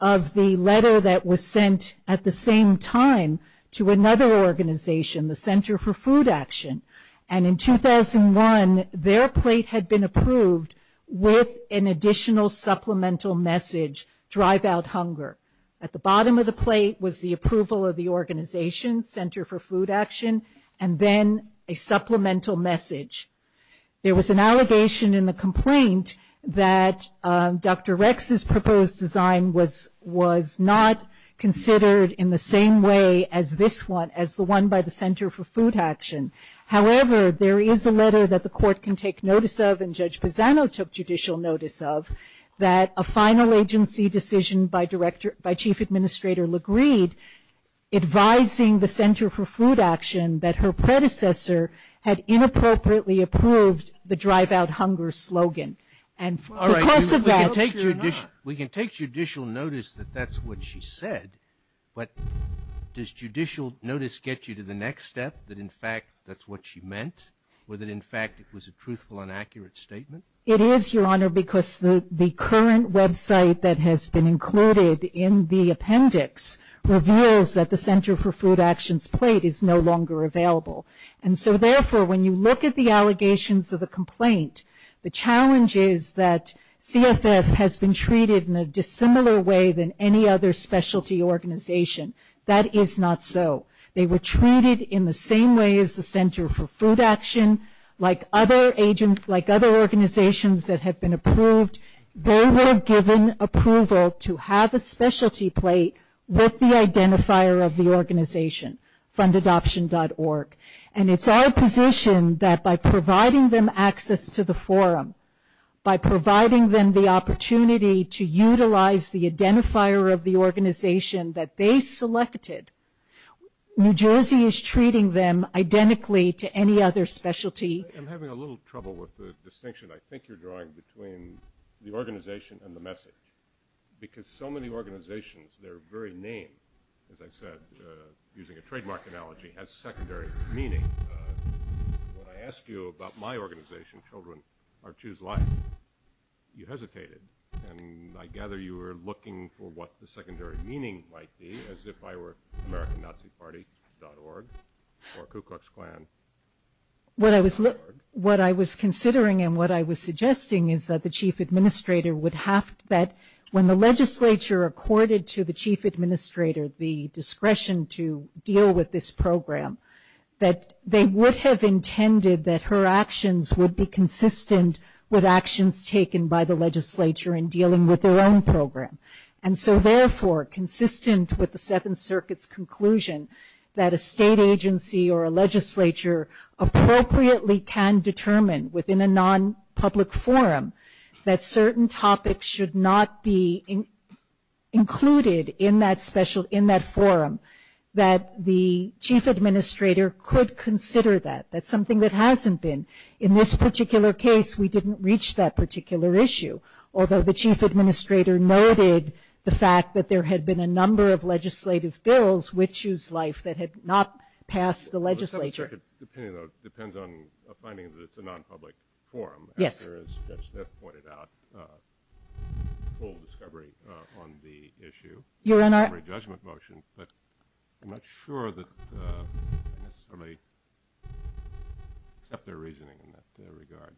of the letter that was sent at the same time to another organization, the Center for Food Action. And in 2001, their plate had been approved with an additional supplemental message, drive out hunger. At the bottom of the plate was the approval of the organization, Center for Food Action, and then a supplemental message. There was an allegation in the complaint that Dr. Rex's proposed design was not considered in the same way as this one, as the one by the Center for Food Action. However, there is a letter that the court can take notice of and Judge Pisano took judicial notice of, that a final agency decision by Chief Administrator LaGreed advising the Center for Food Action that her predecessor had inappropriately approved the drive out hunger slogan. And because of that. We can take judicial notice that that's what she said, but does judicial notice get you to the next step that in fact that's what she meant, or that in fact it was a truthful and accurate statement? It is, Your Honor, because the current website that has been included in the appendix reveals that the Center for Food Action's plate is no longer available. And so, therefore, when you look at the allegations of the complaint, the challenge is that CFS has been treated in a dissimilar way than any other specialty organization. That is not so. They were treated in the same way as the Center for Food Action, like other organizations that have been approved. They were given approval to have a specialty plate with the identifier of the organization, fundadoption.org. And it's our position that by providing them access to the forum, by providing them the opportunity to utilize the identifier of the organization that they selected, New Jersey is treating them identically to any other specialty. I'm having a little trouble with the distinction I think you're drawing between the organization and the message. Because so many organizations, they're very named, as I said, using a trademark analogy, has secondary meaning. When I asked you about my organization, Children Are Tues Life, you hesitated. And I gather you were looking for what the secondary meaning might be, as if I were AmericanNaziParty.org or Ku Klux Klan. What I was considering and what I was suggesting is that the Chief Administrator would have to bet, when the legislature accorded to the Chief Administrator the discretion to deal with this program, that they would have intended that her actions would be consistent with actions taken by the legislature in dealing with their own program. And so therefore, consistent with the Seventh Circuit's conclusion, that a state agency or a legislature appropriately can determine within a non-public forum that certain topics should not be included in that forum, that the Chief Administrator could consider that. That's something that hasn't been. In this particular case, we didn't reach that particular issue. Although the Chief Administrator noted the fact that there had been a number of legislative bills with Tues Life that had not passed the legislature. The Seventh Circuit's opinion, though, depends on the finding that it's a non-public forum. Yes. As Judge Smith pointed out, full discovery on the issue. Your Honor. Judgment motion, but I'm not sure that somebody kept their reasoning in that regard.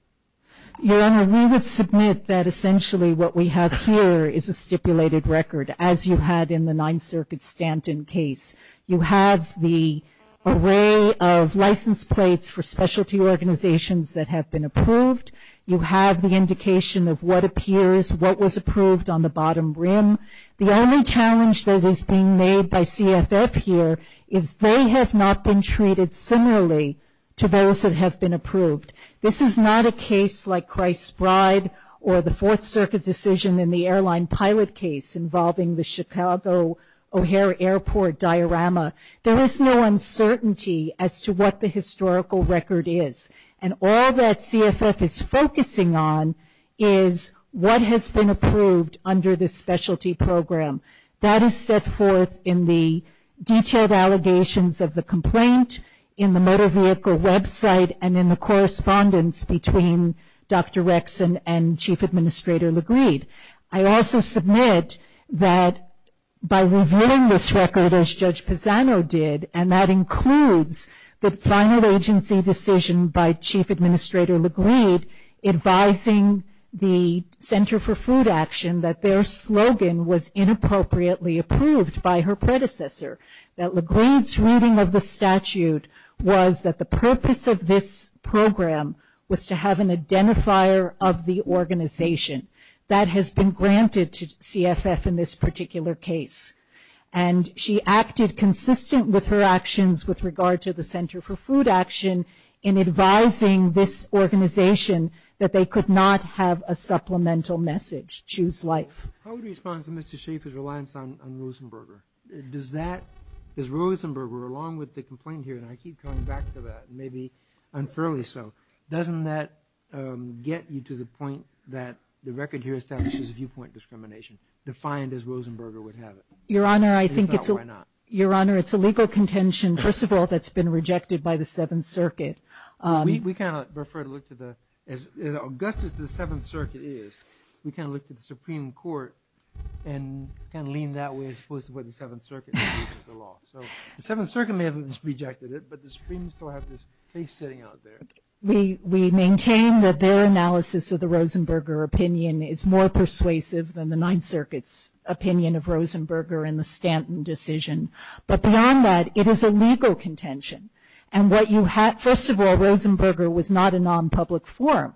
Your Honor, we would submit that essentially what we have here is a stipulated record, as you had in the Ninth Circuit Stanton case. You have the array of license plates for specialty organizations that have been approved. You have the indication of what appears, what was approved on the bottom rim. The only challenge that is being made by CFF here is they have not been treated similarly to those that have been approved. This is not a case like Christ's Bride or the Fourth Circuit's decision in the airline pilot case involving the Chicago O'Hare Airport diorama. There is no uncertainty as to what the historical record is. And all that CFF is focusing on is what has been approved under this specialty program. That is set forth in the detailed allegations of the complaint, in the motor vehicle website, and in the correspondence between Dr. Rexon and Chief Administrator LaGreed. I also submit that by reviewing this record, as Judge Pisano did, and that includes the final agency decision by Chief Administrator LaGreed advising the Center for Food Action that their slogan was inappropriately approved by her predecessor, that LaGreed's reading of the statute was that the purpose of this program was to have an identifier of the organization. That has been granted to CFF in this particular case. And she acted consistent with her actions with regard to the Center for Food Action in advising this organization that they could not have a supplemental message, choose life. How would you respond to Mr. Schaffer's reliance on Rosenberger? Does that, is Rosenberger, along with the complaint here, and I keep coming back to that, and maybe unfairly so, doesn't that get you to the point that the record here establishes viewpoint discrimination, defined as Rosenberger would have it? Your Honor, I think it's a legal contention, first of all, that's been rejected by the Seventh Circuit. We kind of prefer to look to the, as august as the Seventh Circuit is, we kind of look to the Supreme Court and kind of lean that way as opposed to what the Seventh Circuit So the Seventh Circuit may have rejected it, but the Supreme Court has this case sitting out there. We maintain that their analysis of the Rosenberger opinion is more persuasive than the Ninth Circuit's opinion of Rosenberger and the Stanton decision. But beyond that, it is a legal contention. And what you have, first of all, Rosenberger was not a non-public forum.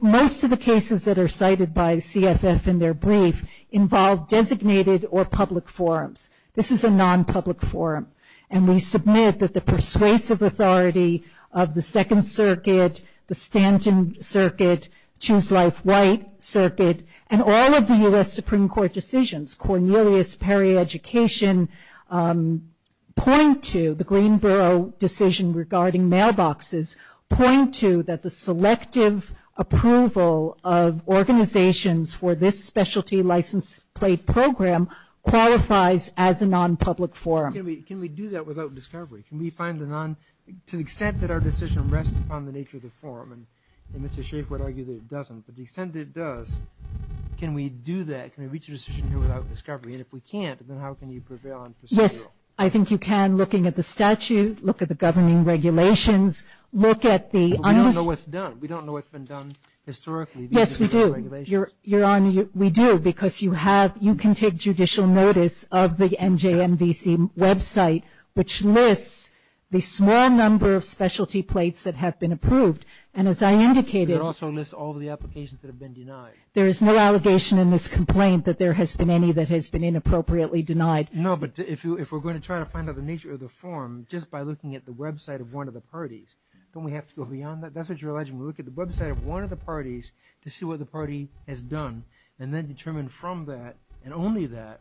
Most of the cases that are cited by CFS in their brief involve designated or public forums. This is a non-public forum. And we submit that the persuasive authority of the Second Circuit, the Stanton Circuit, Choose Life White Circuit, and all of the U.S. Supreme Court decisions, Cornelius, Perry, Education, point to the Greenboro decision regarding mailboxes, point to that the selective approval of organizations for this specialty license plate program qualifies as a non-public forum. Can we do that without discovery? To the extent that our decision rests upon the nature of the forum, and Mr. Shaffer would argue that it doesn't, but to the extent that it does, can we do that, can we reach a decision without discovery? And if we can't, then how can you prevail on procedural? Yes, I think you can looking at the statute, look at the governing regulations, look at the... But we don't know what's done. We don't know what's been done historically. Yes, we do. We do, because you can take judicial notice of the NJMDC website, which lists the small number of specialty plates that have been approved. And as I indicated... It also lists all the applications that have been denied. There is no allegation in this complaint that there has been any that has been inappropriately denied. No, but if we're going to try to find out the nature of the forum, just by looking at the website of one of the parties, don't we have to go beyond that? That's what you're alleging. We look at the website of one of the parties to see what the party has done, and then determine from that, and only that,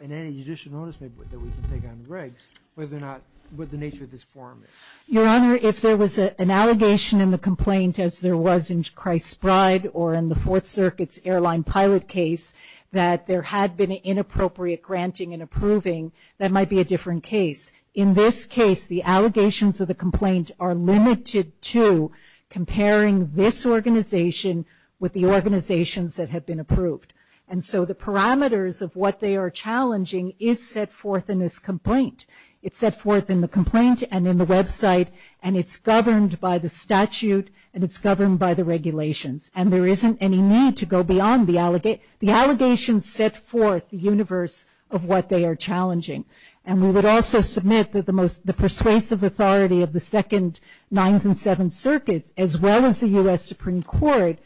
in any judicial notice that we can take on the regs, what the nature of this forum is. Your Honor, if there was an allegation in the complaint, as there was in Christ's Bride or in the Fourth Circuit's airline pilot case, that there had been an inappropriate granting and approving, that might be a different case. In this case, the allegations of the complaint are limited to comparing this organization with the organizations that have been approved. And so the parameters of what they are challenging is set forth in this complaint. It's set forth in the complaint and in the website, and it's governed by the statute, and it's governed by the regulations. And there isn't any need to go beyond the allegations. The allegations set forth the universe of what they are challenging. And we would also submit that the persuasive authority of the Second, Ninth, and Seventh Circuits, as well as the U.S. Supreme Court,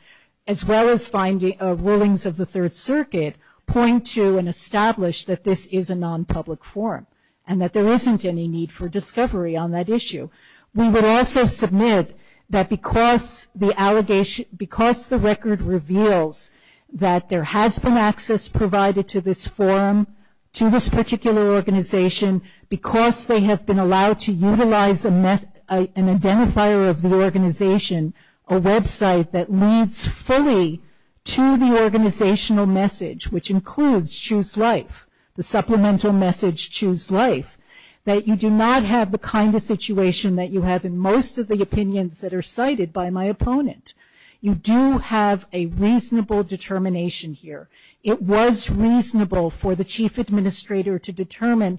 as well as findings of rulings of the Third Circuit, point to and establish that this is a non-public forum, and that there isn't any need for discovery on that issue. We would also submit that because the record reveals that there has been access provided to this forum, to this particular organization, because they have been allowed to utilize an identifier of the organization, a website that leads fully to the organizational message, which includes Choose Life, the supplemental message Choose Life, that you do not have the kind of situation that you have in most of the opinions that are cited by my opponent. You do have a reasonable determination here. It was reasonable for the chief administrator to determine,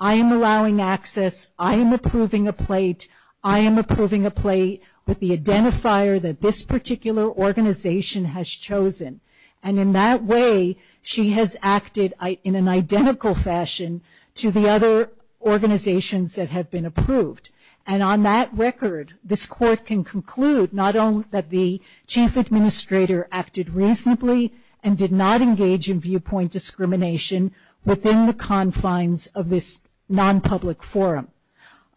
I am allowing access, I am approving a plate, I am approving a plate with the identifier that this particular organization has chosen. And in that way, she has acted in an identical fashion to the other organizations that have been approved. And on that record, this court can conclude not only that the chief administrator acted reasonably and did not engage in viewpoint discrimination within the confines of this non-public forum.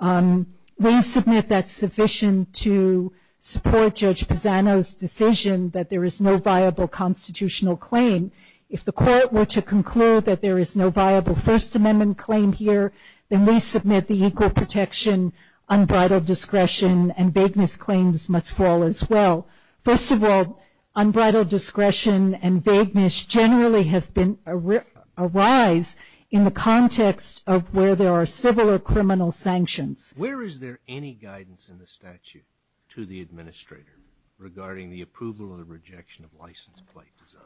We submit that's sufficient to support Judge Pisano's decision that there is no viable constitutional claim. If the court were to conclude that there is no viable First Amendment claim here, then we submit the equal protection, unbridled discretion, and vagueness claims must fall as well. First of all, unbridled discretion and vagueness generally arise in the context of where there are civil or criminal sanctions. Where is there any guidance in the statute to the administrator regarding the approval and the rejection of license plate design?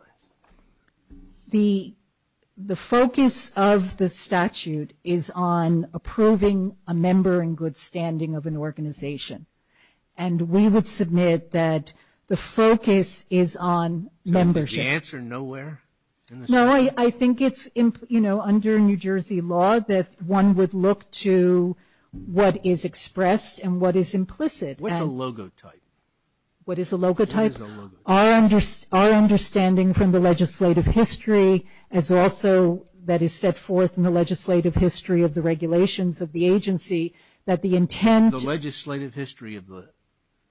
The focus of the statute is on approving a member in good standing of an organization. And we would submit that the focus is on membership. Did you answer nowhere? No, I think it's, you know, under New Jersey law that one would look to what is expressed and what is implicit. What is a logotype? What is a logotype? What is a logotype? Our understanding from the legislative history is also that is set forth in the legislative history of the regulations of the agency that the intent. The legislative history of the.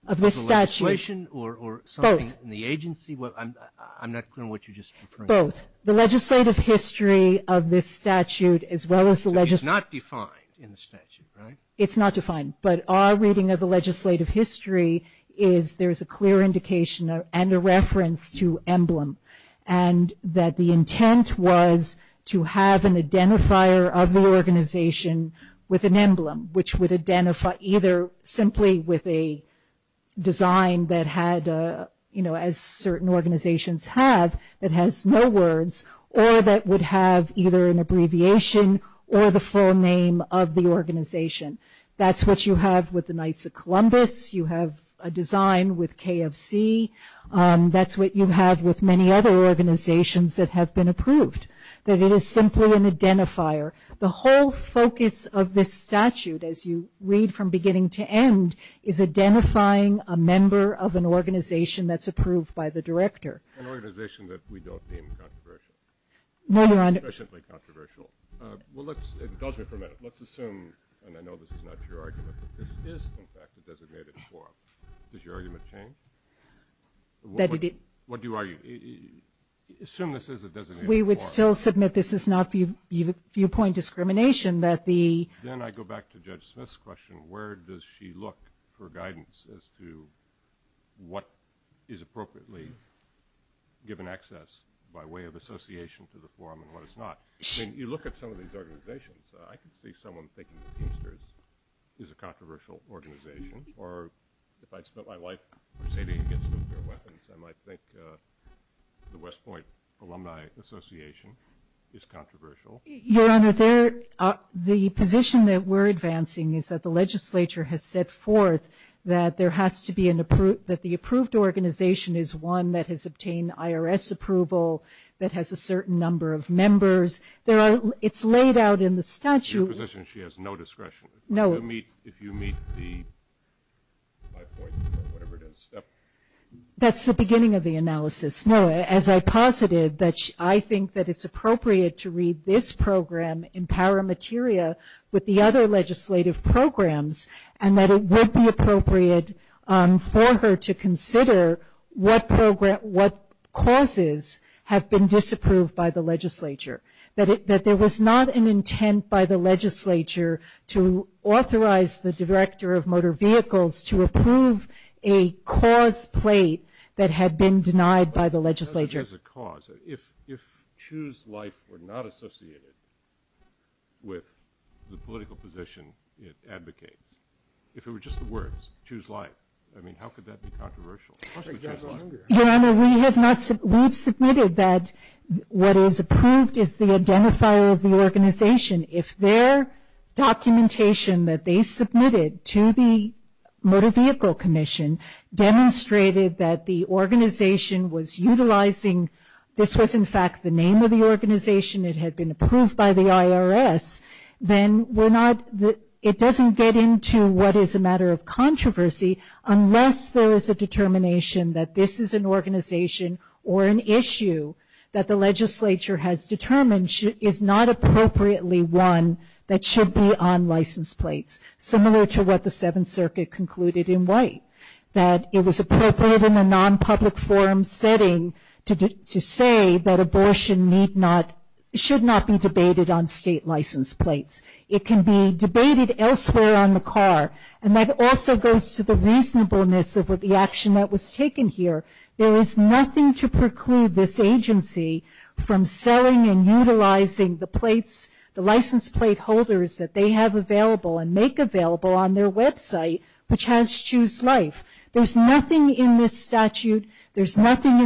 Of the statute. Of the legislation or something in the agency? Both. I'm not clear on what you just referred to. Both. The legislative history of this statute as well as the. It's not defined in the statute, right? It's not defined. But our reading of the legislative history is there's a clear indication and a reference to emblem. And that the intent was to have an identifier of the organization with an emblem, which would identify either simply with a design that had, you know, as certain organizations have that has no words or that would have either an abbreviation or the full name of the organization. That's what you have with the Knights of Columbus. You have a design with KFC. That's what you have with many other organizations that have been approved. That it is simply an identifier. The whole focus of this statute, as you read from beginning to end, is identifying a member of an organization that's approved by the director. An organization that we don't deem controversial. No, we're not. Especially controversial. Well, let's. Let's assume, and I know this is not your argument, but this is in fact a designated forum. Does your argument change? What do you argue? Assume this is a designated forum. We would still submit this is not viewpoint discrimination, but the... Then I go back to Judge Smith's question. Where does she look for guidance as to what is appropriately given access by way of association to the forum and what is not? When you look at some of these organizations, I can see someone thinking the Teamsters is a controversial organization. Or if I spent my life... I might think the West Point Alumni Association is controversial. Your Honor, the position that we're advancing is that the legislature has set forth that there has to be an approved... That the approved organization is one that has obtained IRS approval, that has a certain number of members. It's laid out in the statute. Your position is she has no discretion. No. If you meet the... That's the beginning of the analysis. No, as I posited, I think that it's appropriate to read this program, Empower Materia, with the other legislative programs and that it would be appropriate for her to consider what causes have been disapproved by the legislature, that there was not an intent by the legislature to authorize the director of motor vehicles to approve a cause plate that had been denied by the legislature. If choose life were not associated with the political position it advocates, if it were just the words, choose life, I mean, how could that be controversial? Your Honor, we have submitted that what is approved is the identifier of the organization. If their documentation that they submitted to the Motor Vehicle Commission demonstrated that the organization was utilizing... This was, in fact, the name of the organization. It had been approved by the IRS. Then it doesn't get into what is a matter of controversy unless there is a determination that this is an organization or an issue that the legislature has determined is not appropriately one that should be on license plates, similar to what the Seventh Circuit concluded in White, that it was appropriate in a non-public forum setting to say that abortion should not be debated on state license plates. It can be debated elsewhere on the car. And that also goes to the reasonableness of the action that was taken here. There is nothing to preclude this agency from selling and utilizing the license plate holders that they have available and make available on their website, which has choose life. There is nothing in this statute. There is nothing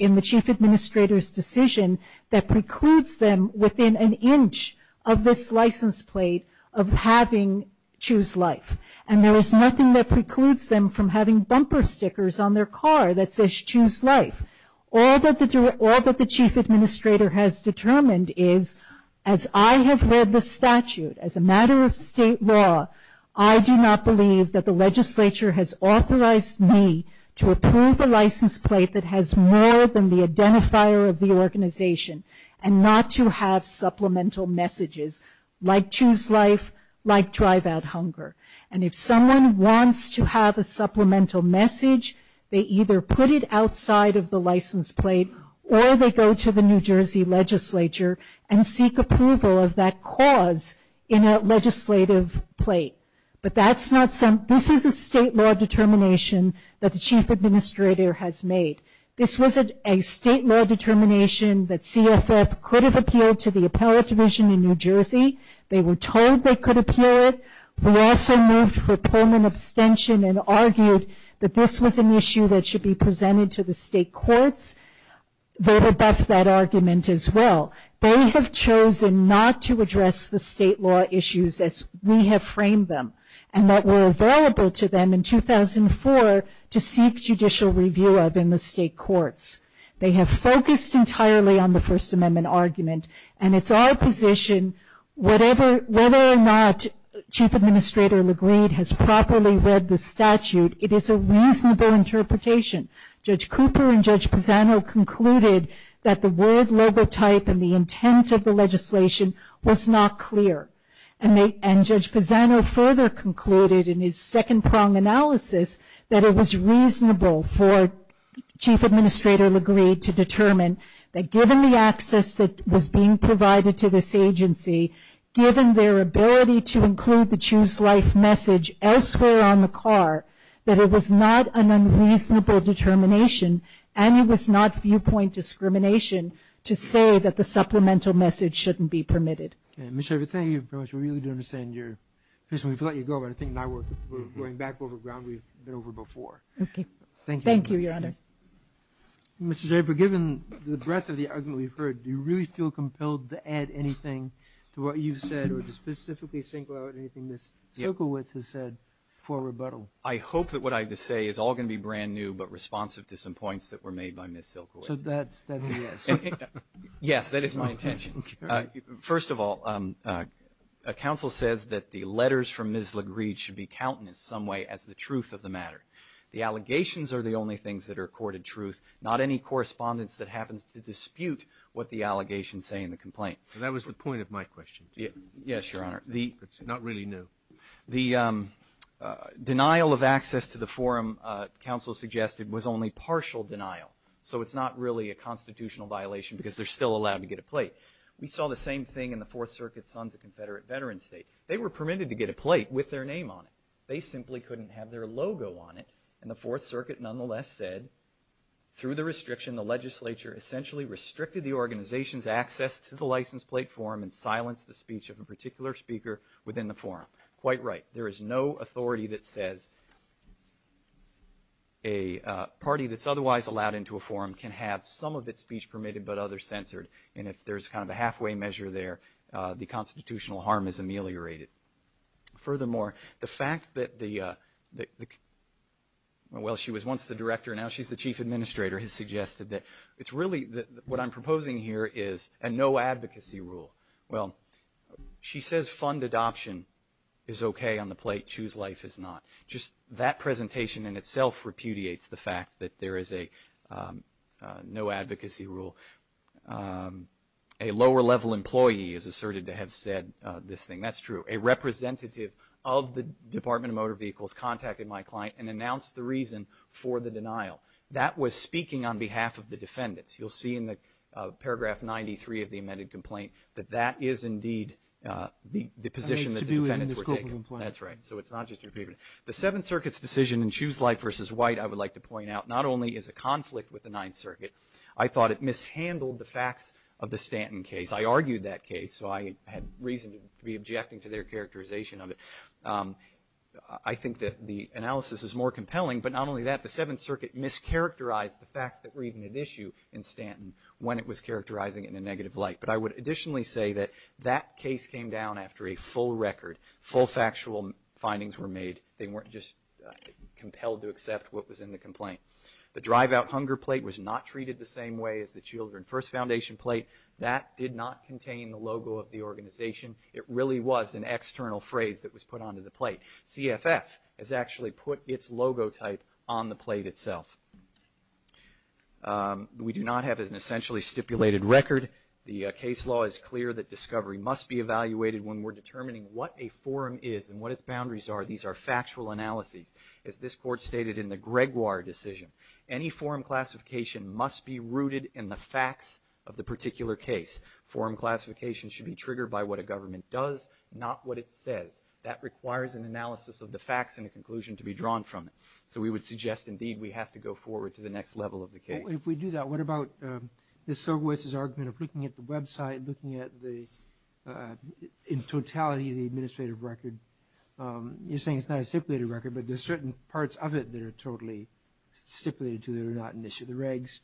in the Chief Administrator's decision that precludes them within an inch of this license plate of having choose life. And there is nothing that precludes them from having bumper stickers on their car that says choose life. All that the Chief Administrator has determined is, as I have read the statute, as a matter of state law, I do not believe that the legislature has authorized me to approve a license plate that has more than the identifier of the organization and not to have supplemental messages like choose life, like drive out hunger. And if someone wants to have a supplemental message, they either put it outside of the license plate or they go to the New Jersey legislature and seek approval of that cause in a legislative plate. This is a state law determination that the Chief Administrator has made. This was a state law determination that CSF could have appealed to the appellate division in New Jersey. They were told they could appeal it. They also moved for permanent abstention and argued that this was an issue that should be presented to the state courts. They have abused that argument as well. They have chosen not to address the state law issues as we have framed them and that were available to them in 2004 to seek judicial review of in the state courts. They have focused entirely on the First Amendment argument and it's our position whether or not Chief Administrator LaGreed has properly read the statute, it is a reasonable interpretation. Judge Cooper and Judge Pisano concluded that the word logotype and the intent of the legislation was not clear. And Judge Pisano further concluded in his second-prong analysis that it was reasonable for Chief Administrator LaGreed to determine that given the access that was being provided to this agency, given their ability to include the Choose Life message elsewhere on the car, that it was not an unreasonable determination and it was not viewpoint discrimination to say that the supplemental message shouldn't be permitted. Okay, Ms. Shaffer, thank you very much. We really do understand your position. We've let you go, but I think now we're going back over ground we've been over before. Okay. Thank you. Thank you, Your Honor. Mr. Shaffer, given the breadth of the argument we've heard, do you really feel compelled to add anything to what you've said or to specifically think about anything Ms. Silkowitz has said for rebuttal? I hope that what I say is all going to be brand new but responsive to some points that were made by Ms. Silkowitz. So that's the idea. Yes, that is my intention. First of all, a counsel says that the letters from Ms. LaGreed should be counted in some way as the truth of the matter. The allegations are the only things that are accorded truth, not any correspondence that happens to dispute what the allegations say in the complaint. That was the point of my question. Yes, Your Honor. It's not really new. The denial of access to the forum counsel suggested was only partial denial, so it's not really a constitutional violation because they're still allowed to get a plate. We saw the same thing in the Fourth Circuit's funds at Confederate Veterans State. They were permitted to get a plate with their name on it. They simply couldn't have their logo on it, and the Fourth Circuit nonetheless said through the restriction, the legislature essentially restricted the organization's access to the license plate forum and silenced the speech of a particular speaker within the forum. Quite right. There is no authority that says a party that's otherwise allowed into a forum can have some of its speech permitted but others censored, and if there's kind of a halfway measure there, the constitutional harm is ameliorated. Furthermore, the fact that the, well, she was once the director, now she's the chief administrator, has suggested that it's really what I'm proposing here is a no-advocacy rule. Well, she says fund adoption is okay on the plate, choose life is not. Just that presentation in itself repudiates the fact that there is a no-advocacy rule. A lower-level employee is asserted to have said this thing. That's true. A representative of the Department of Motor Vehicles contacted my client and announced the reason for the denial. That was speaking on behalf of the defendants. You'll see in the paragraph 93 of the amended complaint that that is indeed the position that the defendants were taking. That's right. So it's not just your opinion. The Seventh Circuit's decision in choose life versus white, I would like to point out, not only is a conflict with the Ninth Circuit, I thought it mishandled the facts of the Stanton case. I argued that case, so I had reason to be objecting to their characterization of it. I think that the analysis is more compelling, but not only that, the Seventh Circuit mischaracterized the fact that we're even at issue in Stanton when it was characterizing it in a negative light. But I would additionally say that that case came down after a full record, full factual findings were made. They weren't just compelled to accept what was in the complaint. The drive-out hunger plate was not treated the same way as the Children First Foundation plate. That did not contain the logo of the organization. It really was an external phrase that was put onto the plate. CFS has actually put its logotype on the plate itself. We do not have an essentially stipulated record. The case law is clear that discovery must be evaluated when we're determining what a forum is and what its boundaries are. These are factual analyses. As this court stated in the Gregoire decision, any forum classification must be rooted in the facts of the particular case. Forum classification should be triggered by what a government does, not what it says. That requires an analysis of the facts and a conclusion to be drawn from it. So we would suggest, indeed, we have to go forward to the next level of the case. Well, if we do that, what about Mr. Sobowitz's argument of looking at the website, looking at the totality of the administrative record? You're saying it's not a stipulated record, but there are certain parts of it that are totally stipulated so they're not an issue. The regs,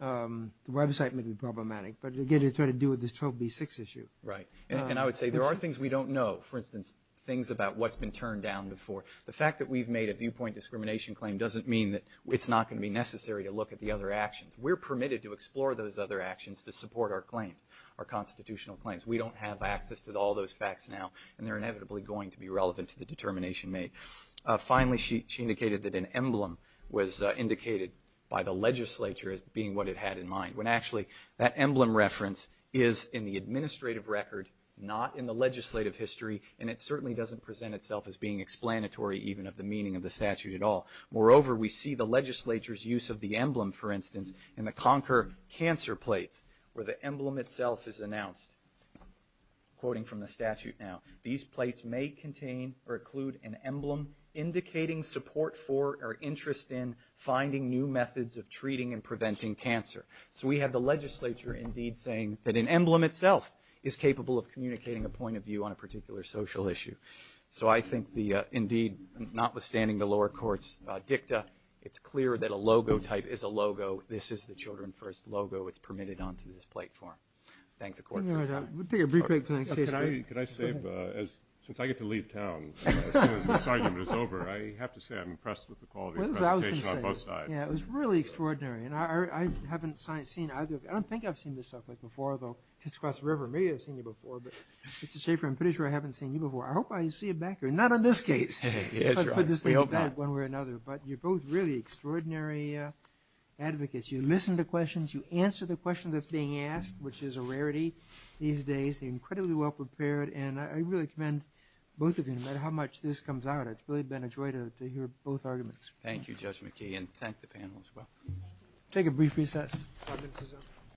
the website may be problematic, but again, it's got to do with this 12B6 issue. Right. And I would say there are things we don't know, for instance, things about what's been turned down before. The fact that we've made a viewpoint discrimination claim doesn't mean that it's not going to be necessary to look at the other actions. We're permitted to explore those other actions to support our claims, our constitutional claims. We don't have access to all those facts now, and they're inevitably going to be relevant to the determination made. Finally, she indicated that an emblem was indicated by the legislature as being what it had in mind, when actually that emblem reference is in the administrative record, not in the legislative history, and it certainly doesn't present itself as being explanatory even of the meaning of the statute at all. Moreover, we see the legislature's use of the emblem, for instance, in the Concord cancer plate where the emblem itself is announced, quoting from the statute now. These plates may contain or include an emblem indicating support for or interest in finding new methods of treating and preventing cancer. So we have the legislature indeed saying that an emblem itself is capable of communicating a point of view on a particular social issue. So I think, indeed, notwithstanding the lower court's dicta, it's clear that a logotype is a logo. This is the Children First logo that's permitted onto this platform. Thanks, of course. Can I say, since I get to leave town, as soon as this argument is over, I have to say I'm impressed with the quality of presentation on both sides. Yeah, it was really extraordinary, and I haven't seen either of you. I don't think I've seen yourself before, though. It's across the river. Maybe I've seen you before, but just to say for I'm pretty sure I haven't seen you before. I hope I see you back here. Not on this case. We hope not. But you're both really extraordinary advocates. You listen to questions. You answer the question that's being asked, which is a rarity these days. Incredibly well prepared. And I really commend both of you, no matter how much this comes out. It's really been a joy to hear both arguments. Thank you, Judge McKee, and thank the panel as well. Take a brief recess.